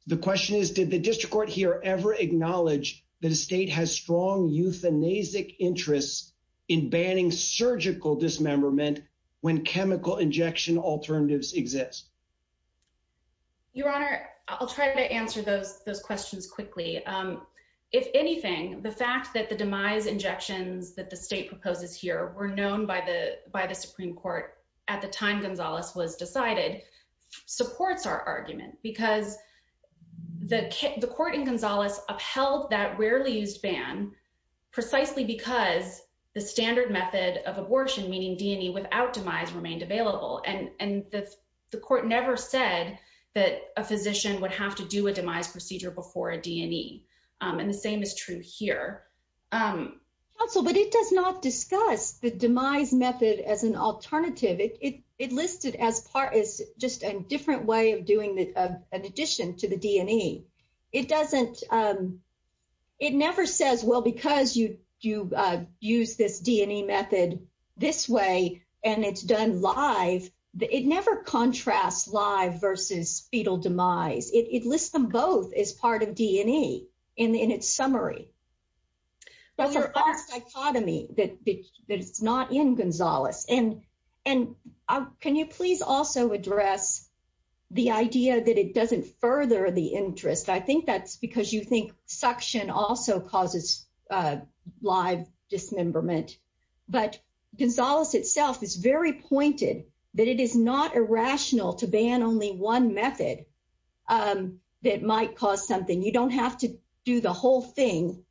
The question is, did the district court here ever acknowledge that the state has strong euthanasic interests in banning surgical dismemberment when chemical injection alternatives exist? Your Honor, I'll try to answer those questions quickly, if anything, the fact that the demise injections that the state proposes here were known by the by the Supreme Court at the time Gonzalez was decided supports our argument because the court in Gonzalez upheld that rarely used ban precisely because the standard method of abortion, meaning D&E, without demise remained available. And the court never said that a physician would have to do a demise procedure before a D&E. And the same is true here. But it does not discuss the demise method as an alternative. It listed as part of just a different way of doing an addition to the D&E. It doesn't, it never says, well, because you do use this D&E method this way and it's done live, it never contrasts live versus fetal demise. It lists them both as part of D&E in its summary. So there's a dichotomy that's not in Gonzalez. And can you please also address the idea that it doesn't further the interest? I think that's because you think suction also causes live dismemberment. But Gonzalez itself is very pointed that it is not irrational to ban only one method that might cause something. You don't have to do the whole thing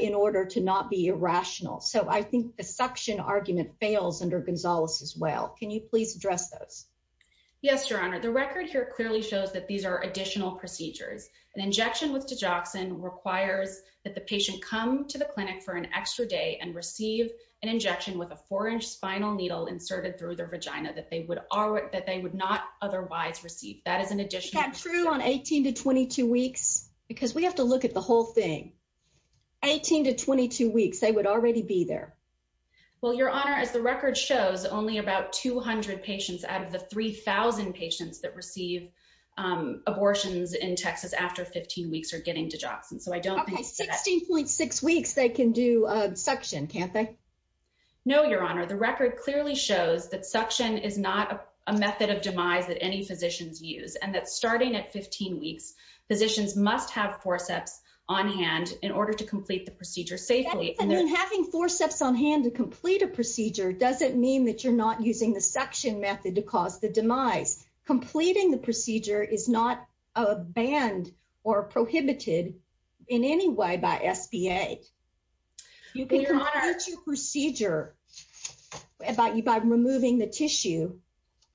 in order to not be irrational. So I think the suction argument fails under Gonzalez as well. Can you please address those? Yes, Your Honor, the record here clearly shows that these are additional procedures. An injection with Digoxin requires that the patient come to the clinic for an extra day and receive an injection with a four inch spinal needle inserted through their vagina that they would not otherwise receive. That is an additional procedure. Is that true on 18 to 22 weeks? Because we have to look at the whole thing. 18 to 22 weeks, they would already be there. Well, Your Honor, as the record shows, only about 200 patients out of the 3,000 patients that receive abortions in Texas after 15 weeks are getting Digoxin. So I don't think that... Okay, 16.6 weeks they can do suction, can't they? No, Your Honor. The record clearly shows that suction is not a method of demise that any physicians use and that starting at 15 weeks, physicians must have forceps on hand in order to complete the procedure safely. And then having forceps on hand to complete a procedure doesn't mean that you're not using the suction method to cause the demise. Completing the procedure is not a ban or prohibited in any way by FDA. You can monitor the procedure by removing the tissue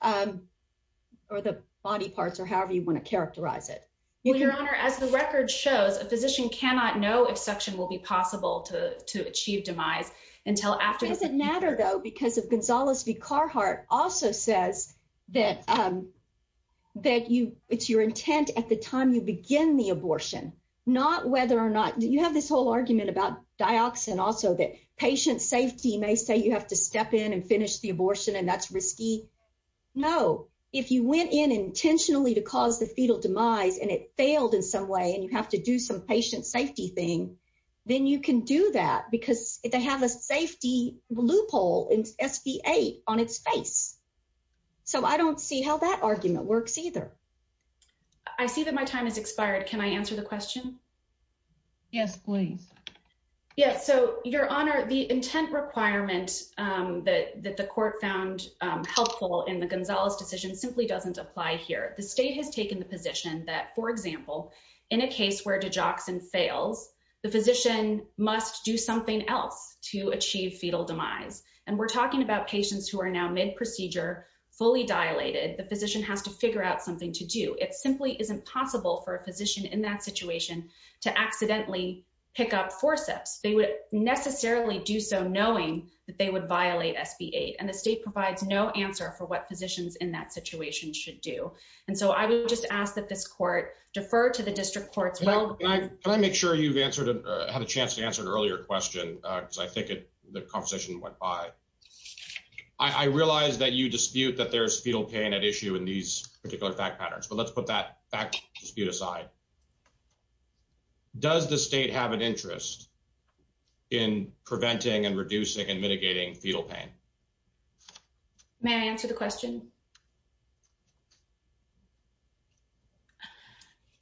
or the body parts or however you want to characterize it. Well, Your Honor, as the record shows, a physician cannot know if suction will be possible to achieve demise until after... It doesn't matter, though, because Gonzales v. Carhart also says that it's your intent at the time you begin the abortion, not whether or not... You have this whole argument about dioxin also, that patient safety may say you have to step in and finish the abortion and that's risky. No. If you went in intentionally to cause the fetal demise and it failed in some way and you have to do some patient safety thing, then you can do that because they have a safety loophole in SB 8 on its face. So I don't see how that argument works either. Can I answer the question? Yes, please. Yes. So, Your Honor, the intent requirement that the court found helpful in the Gonzales decision simply doesn't apply here. The state has taken the position that, for example, in a case where dioxin fails, the physician must do something else to achieve fetal demise. And we're talking about patients who are now mid-procedure, fully dilated. The physician has to figure out something to do. It simply isn't possible for a physician in that situation to accidentally pick up forceps. They would necessarily do so knowing that they would violate SB 8. And the state provides no answer for what physicians in that situation should do. And so I would just ask that this court defer to the district court... Well, can I make sure you have a chance to answer an earlier question? Because I think the conversation went by. I realize that you dispute that there is fetal pain at issue in these particular fact patterns. But let's put that back to the side. Does the state have an interest in preventing and reducing and mitigating fetal pain? May I answer the question?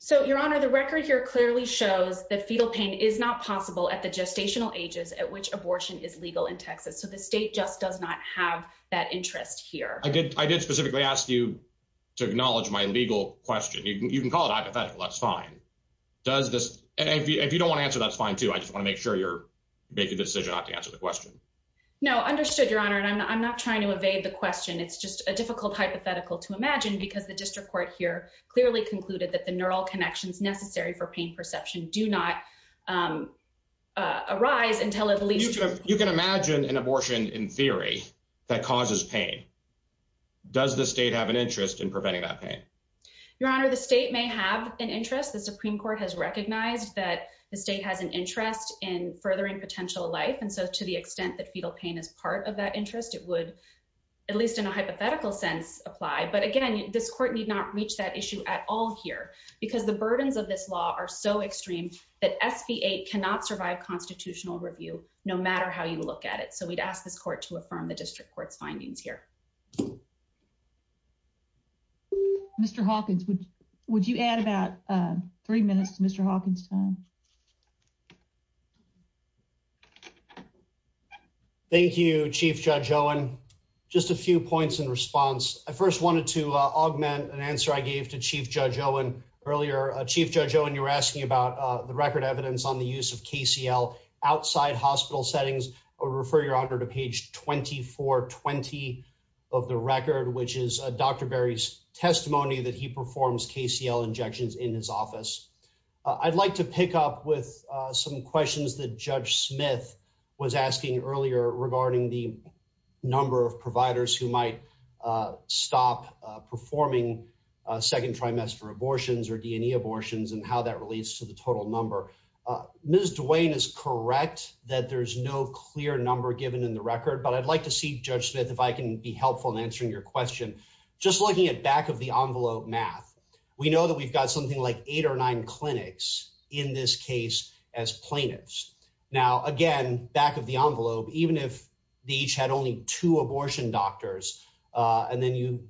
So, Your Honor, the record here clearly shows that fetal pain is not possible at the gestational ages at which abortion is legal in Texas. So the state just does not have that interest here. I did specifically ask you to acknowledge my legal question. You can call it hypothetical. That's fine. And if you don't want to answer, that's fine, too. I just want to make sure you're making the decision not to answer the question. No, understood, Your Honor. And I'm not trying to evade the question. It's just a difficult hypothetical to imagine because the district court here clearly concluded that the neural connections necessary for pain perception do not arise until at least... You can imagine an abortion in theory that causes pain. Does the state have an interest in preventing that pain? Your Honor, the state may have an interest. The Supreme Court has recognized that the state has an interest in furthering potential life. And so to the extent that fetal pain is part of that interest, it would, at least in a hypothetical sense, apply. But again, this court need not reach that issue at all here because the burdens of this law are so extreme that FDA cannot survive constitutional review no matter how you look at it. So we'd ask the court to affirm the district court's findings here. Mr. Hawkins, would you add about three minutes to Mr. Hawkins' time? Thank you, Chief Judge Owen. Just a few points in response. I first wanted to augment an answer I gave to Chief Judge Owen earlier. Chief Judge Owen, you were asking about the record evidence on the use of KCL outside hospital settings. I'll refer you, Your Honor, to page 2420 of the record, which is Dr. Berry's testimony that he performs KCL injections in his office. I'd like to pick up with some questions that Judge Smith was asking earlier regarding the number of providers who might stop performing second trimester abortions or D&E abortions and how that relates to the total number. Ms. Duane is correct that there's no clear number given in the record, but I'd like to see, Judge Smith, if I can be helpful in answering your question. Just looking at back of the envelope math, we know that we've got something like eight or nine clinics in this case as plaintiffs. Now, again, back of the envelope, even if they each had only two abortion doctors and then you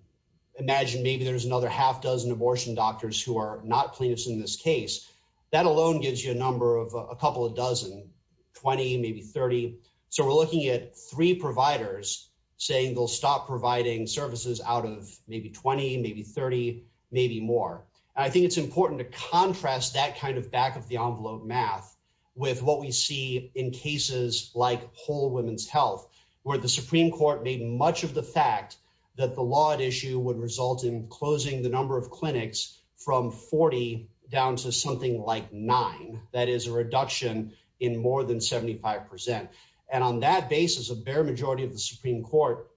imagine maybe there's another half dozen abortion doctors who are not plaintiffs in this case, that alone gives you a number of a couple of dozen, 20, maybe 30. So we're looking at three providers saying they'll stop providing services out of maybe 20, maybe 30, maybe more. I think it's important to contrast that kind of back of the envelope math with what we see in cases like Whole Women's Health, where the Supreme Court made much of the fact that the law at issue would result in closing the number of clinics from 40 down to something like nine. That is a reduction in more than 75%. And on that basis, a bare majority of the Supreme Court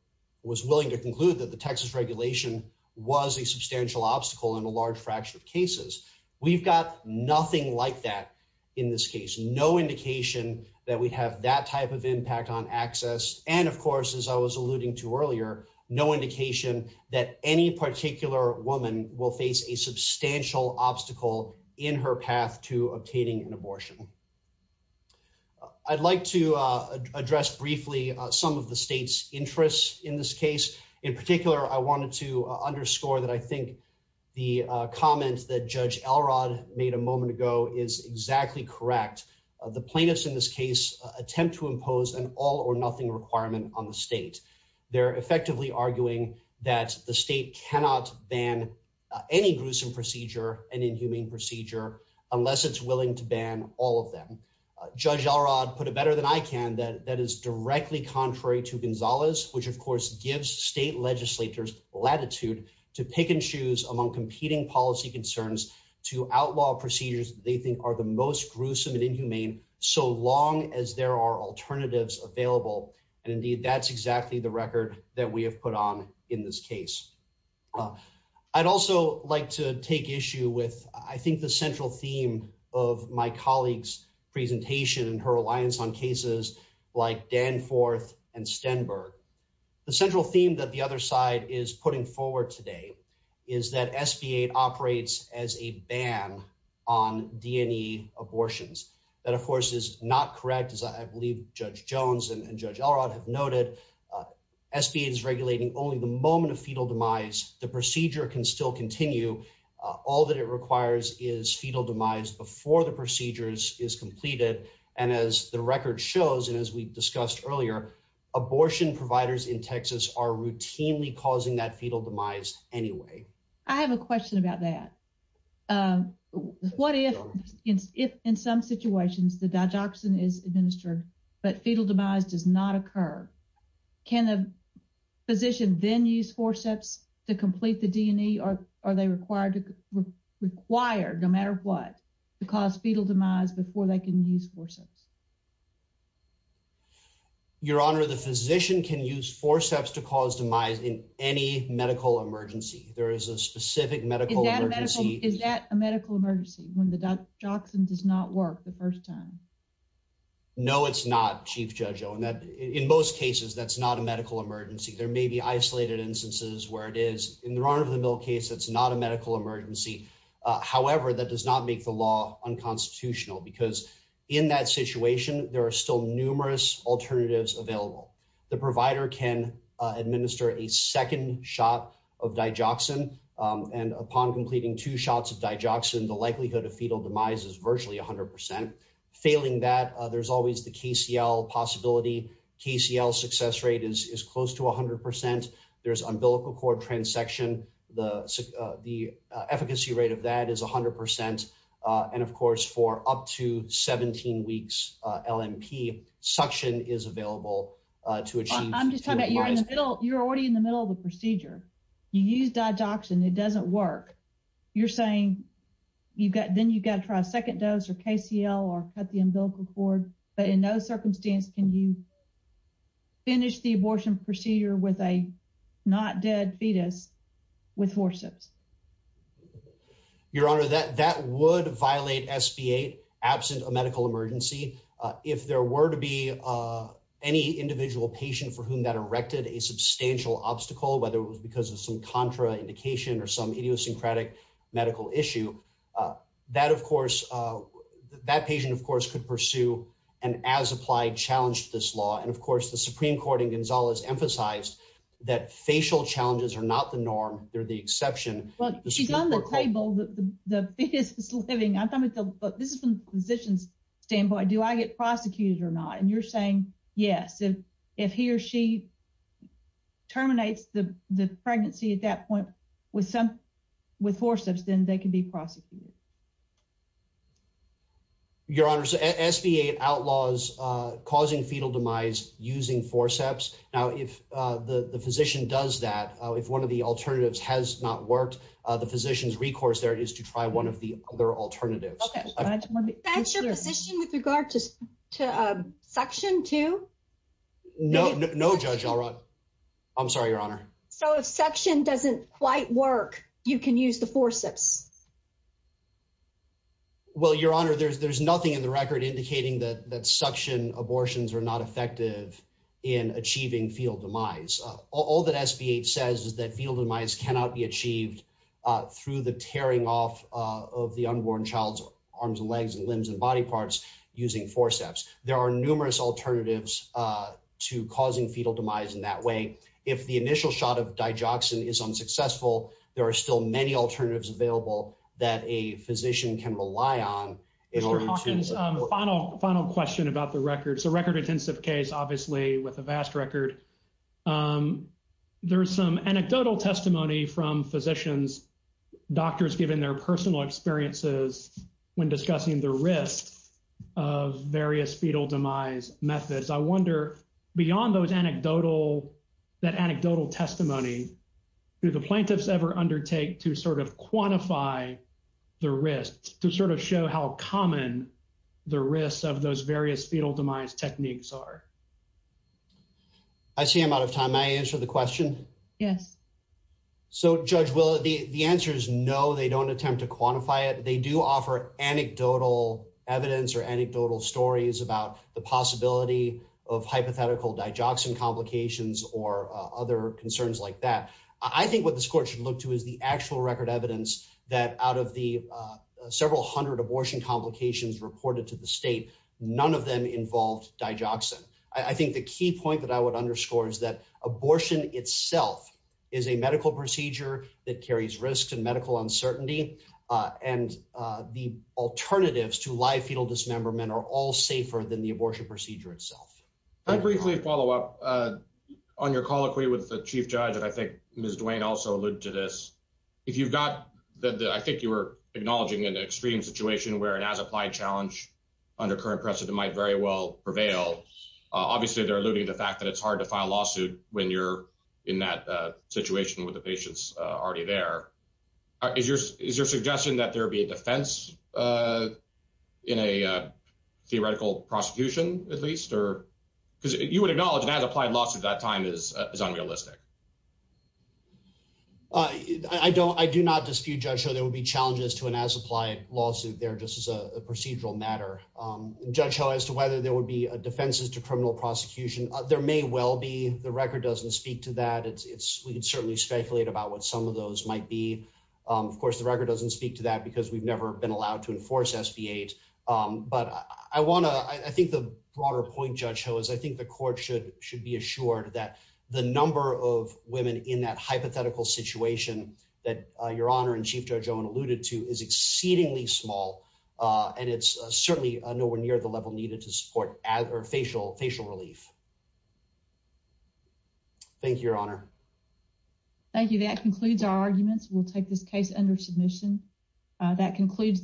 was willing to conclude that the Texas regulation was a substantial obstacle in a large fraction of cases. We've got nothing like that in this case. No indication that we have that type of impact on access. And of course, as I was alluding to earlier, no indication that any particular woman will face a substantial obstacle in her path to obtaining an abortion. I'd like to address briefly some of the state's interests in this case. In particular, I wanted to underscore that I think the comment that Judge Elrod made a moment ago is exactly correct. The plaintiffs in this case attempt to impose an all or nothing requirement on the state. They're effectively arguing that the state cannot ban any gruesome procedure, any inhumane procedure, unless it's willing to ban all of them. Judge Elrod put it better than I can, that is directly contrary to Gonzalez, which of course gives state legislatures latitude to pick and choose among competing policy concerns to outlaw procedures they think are the most gruesome and inhumane, so long as there are alternatives available. And indeed, that's exactly the record that we have put on in this case. I'd also like to take issue with, I think, the central theme of my colleague's presentation and her reliance on cases like Danforth and Stenberg. The central theme that the other side is putting forward today is that SBA operates as a ban on D&E abortions. That, of course, is not correct, as I believe Judge Jones and Judge Elrod have noted. SBA is regulating only the moment of fetal demise. The procedure can still continue. All that it requires is fetal demise before the procedure is completed. And as the record shows, and as we've discussed earlier, abortion providers in Texas are routinely causing that fetal demise anyway. I have a question about that. What if, in some situations, the digoxin is administered, but fetal demise does not occur? Can a physician then use forceps to complete the D&E? Or are they required, no matter what, to cause fetal demise before they can use forceps? Your Honor, the physician can use forceps to cause demise in any medical emergency. There is a specific medical emergency. Is that a medical emergency, when the digoxin does not work the first time? No, it's not, Chief Judge Owen. In most cases, that's not a medical emergency. There may be isolated instances where it is. In the Ron over the Mill case, it's not a medical emergency. However, that does not make the law unconstitutional. Because in that situation, there are still numerous alternatives available. The provider can administer a second shot of digoxin. And upon completing two shots of digoxin, the likelihood of fetal demise is virtually 100%. Failing that, there's always the KCL possibility. KCL success rate is close to 100%. There's umbilical cord transection. The efficacy rate of that is 100%. And of course, for up to 17 weeks, LNP suction is available to achieve. I'm just talking about you're already in the middle of the procedure. You use digoxin. It doesn't work. You're saying then you've got to try a second dose of KCL or cut the umbilical cord. But in those circumstances, can you finish the abortion procedure with a not dead fetus with forceps? Your Honor, that would violate SB 8 absent a medical emergency. If there were to be any individual patient for whom that erected a substantial obstacle, whether it was because of some contraindication or some idiosyncratic medical issue, that patient, of course, could pursue an as-applied challenge to this law. And of course, the Supreme Court in Gonzales emphasized that facial challenges are not the norm. They're the exception. But she's on the table, the fetus is living. I'm talking about this is from a physician's standpoint. Do I get prosecuted or not? And you're saying yes. If he or she terminates the pregnancy at that point with forceps, then they can be prosecuted. Your Honor, SB 8 outlaws causing fetal demise using forceps. Now, if the physician does that, if one of the alternatives has not worked, the physician's recourse there is to try one of the other alternatives. Okay, Judge, let me finish this. With regard to suction too? No, Judge. I'm sorry, Your Honor. So, if suction doesn't quite work, you can use the forceps? Well, Your Honor, there's nothing in the record indicating that suction abortions are not effective in achieving fetal demise. All that SB 8 says is that fetal demise cannot be achieved through the tearing off of the unborn child's arms and legs and limbs and body parts using forceps. There are numerous alternatives to causing fetal demise in that way. If the initial shot of digoxin is unsuccessful, there are still many alternatives available that a physician can rely on. If we're talking about the final question about the record, it's a record-intensive case, obviously, with a vast record. There's some anecdotal testimony from physicians, doctors giving their personal experiences when discussing the risk of various fetal demise methods. I wonder, beyond that anecdotal testimony, do the plaintiffs ever undertake to quantify the risks, to show how common the risks of those various fetal demise techniques are? I see I'm out of time. May I answer the question? Yes. So, Judge, the answer is no, they don't attempt to quantify it. They do offer anecdotal evidence or anecdotal stories about the possibility of hypothetical digoxin complications or other concerns like that. I think what this court should look to is the actual record evidence that out of the several hundred abortion complications reported to the state, none of them involved digoxin. I think the key point that I would underscore is that abortion itself is a medical procedure that carries risks and medical uncertainty, and the alternatives to live fetal dismemberment are all safer than the abortion procedure itself. Can I briefly follow up on your colloquy with the Chief Judge? And I think Ms. Duane also alluded to this. If you've not, I think you were acknowledging an extreme situation where an as-applied challenge under current precedent might very well prevail. Obviously, they're alluding to the fact that it's hard to file a lawsuit when you're in that situation with the patients already there. Is your suggestion that there be a defense in a theoretical prosecution, at least? Because you would acknowledge an as-applied lawsuit at that time is unrealistic. I do not dispute, Judge Ho, there would be challenges to an as-applied lawsuit there just as a procedural matter. Judge Ho, as to whether there would be defenses to criminal prosecution, there may well be. The record doesn't speak to that. We can certainly speculate about what some of those might be. Of course, the record doesn't speak to that because we've never been allowed to enforce SB 8. But I want to, I think the broader point, Judge Ho, is I think the court should be assured that the number of women in that hypothetical situation that Your Honor and Chief Judge Owen alluded to is exceedingly small and it's certainly nowhere near the level needed to support facial relief. Thank you, Your Honor. Thank you. That concludes our arguments. We'll take this case under submission. That concludes...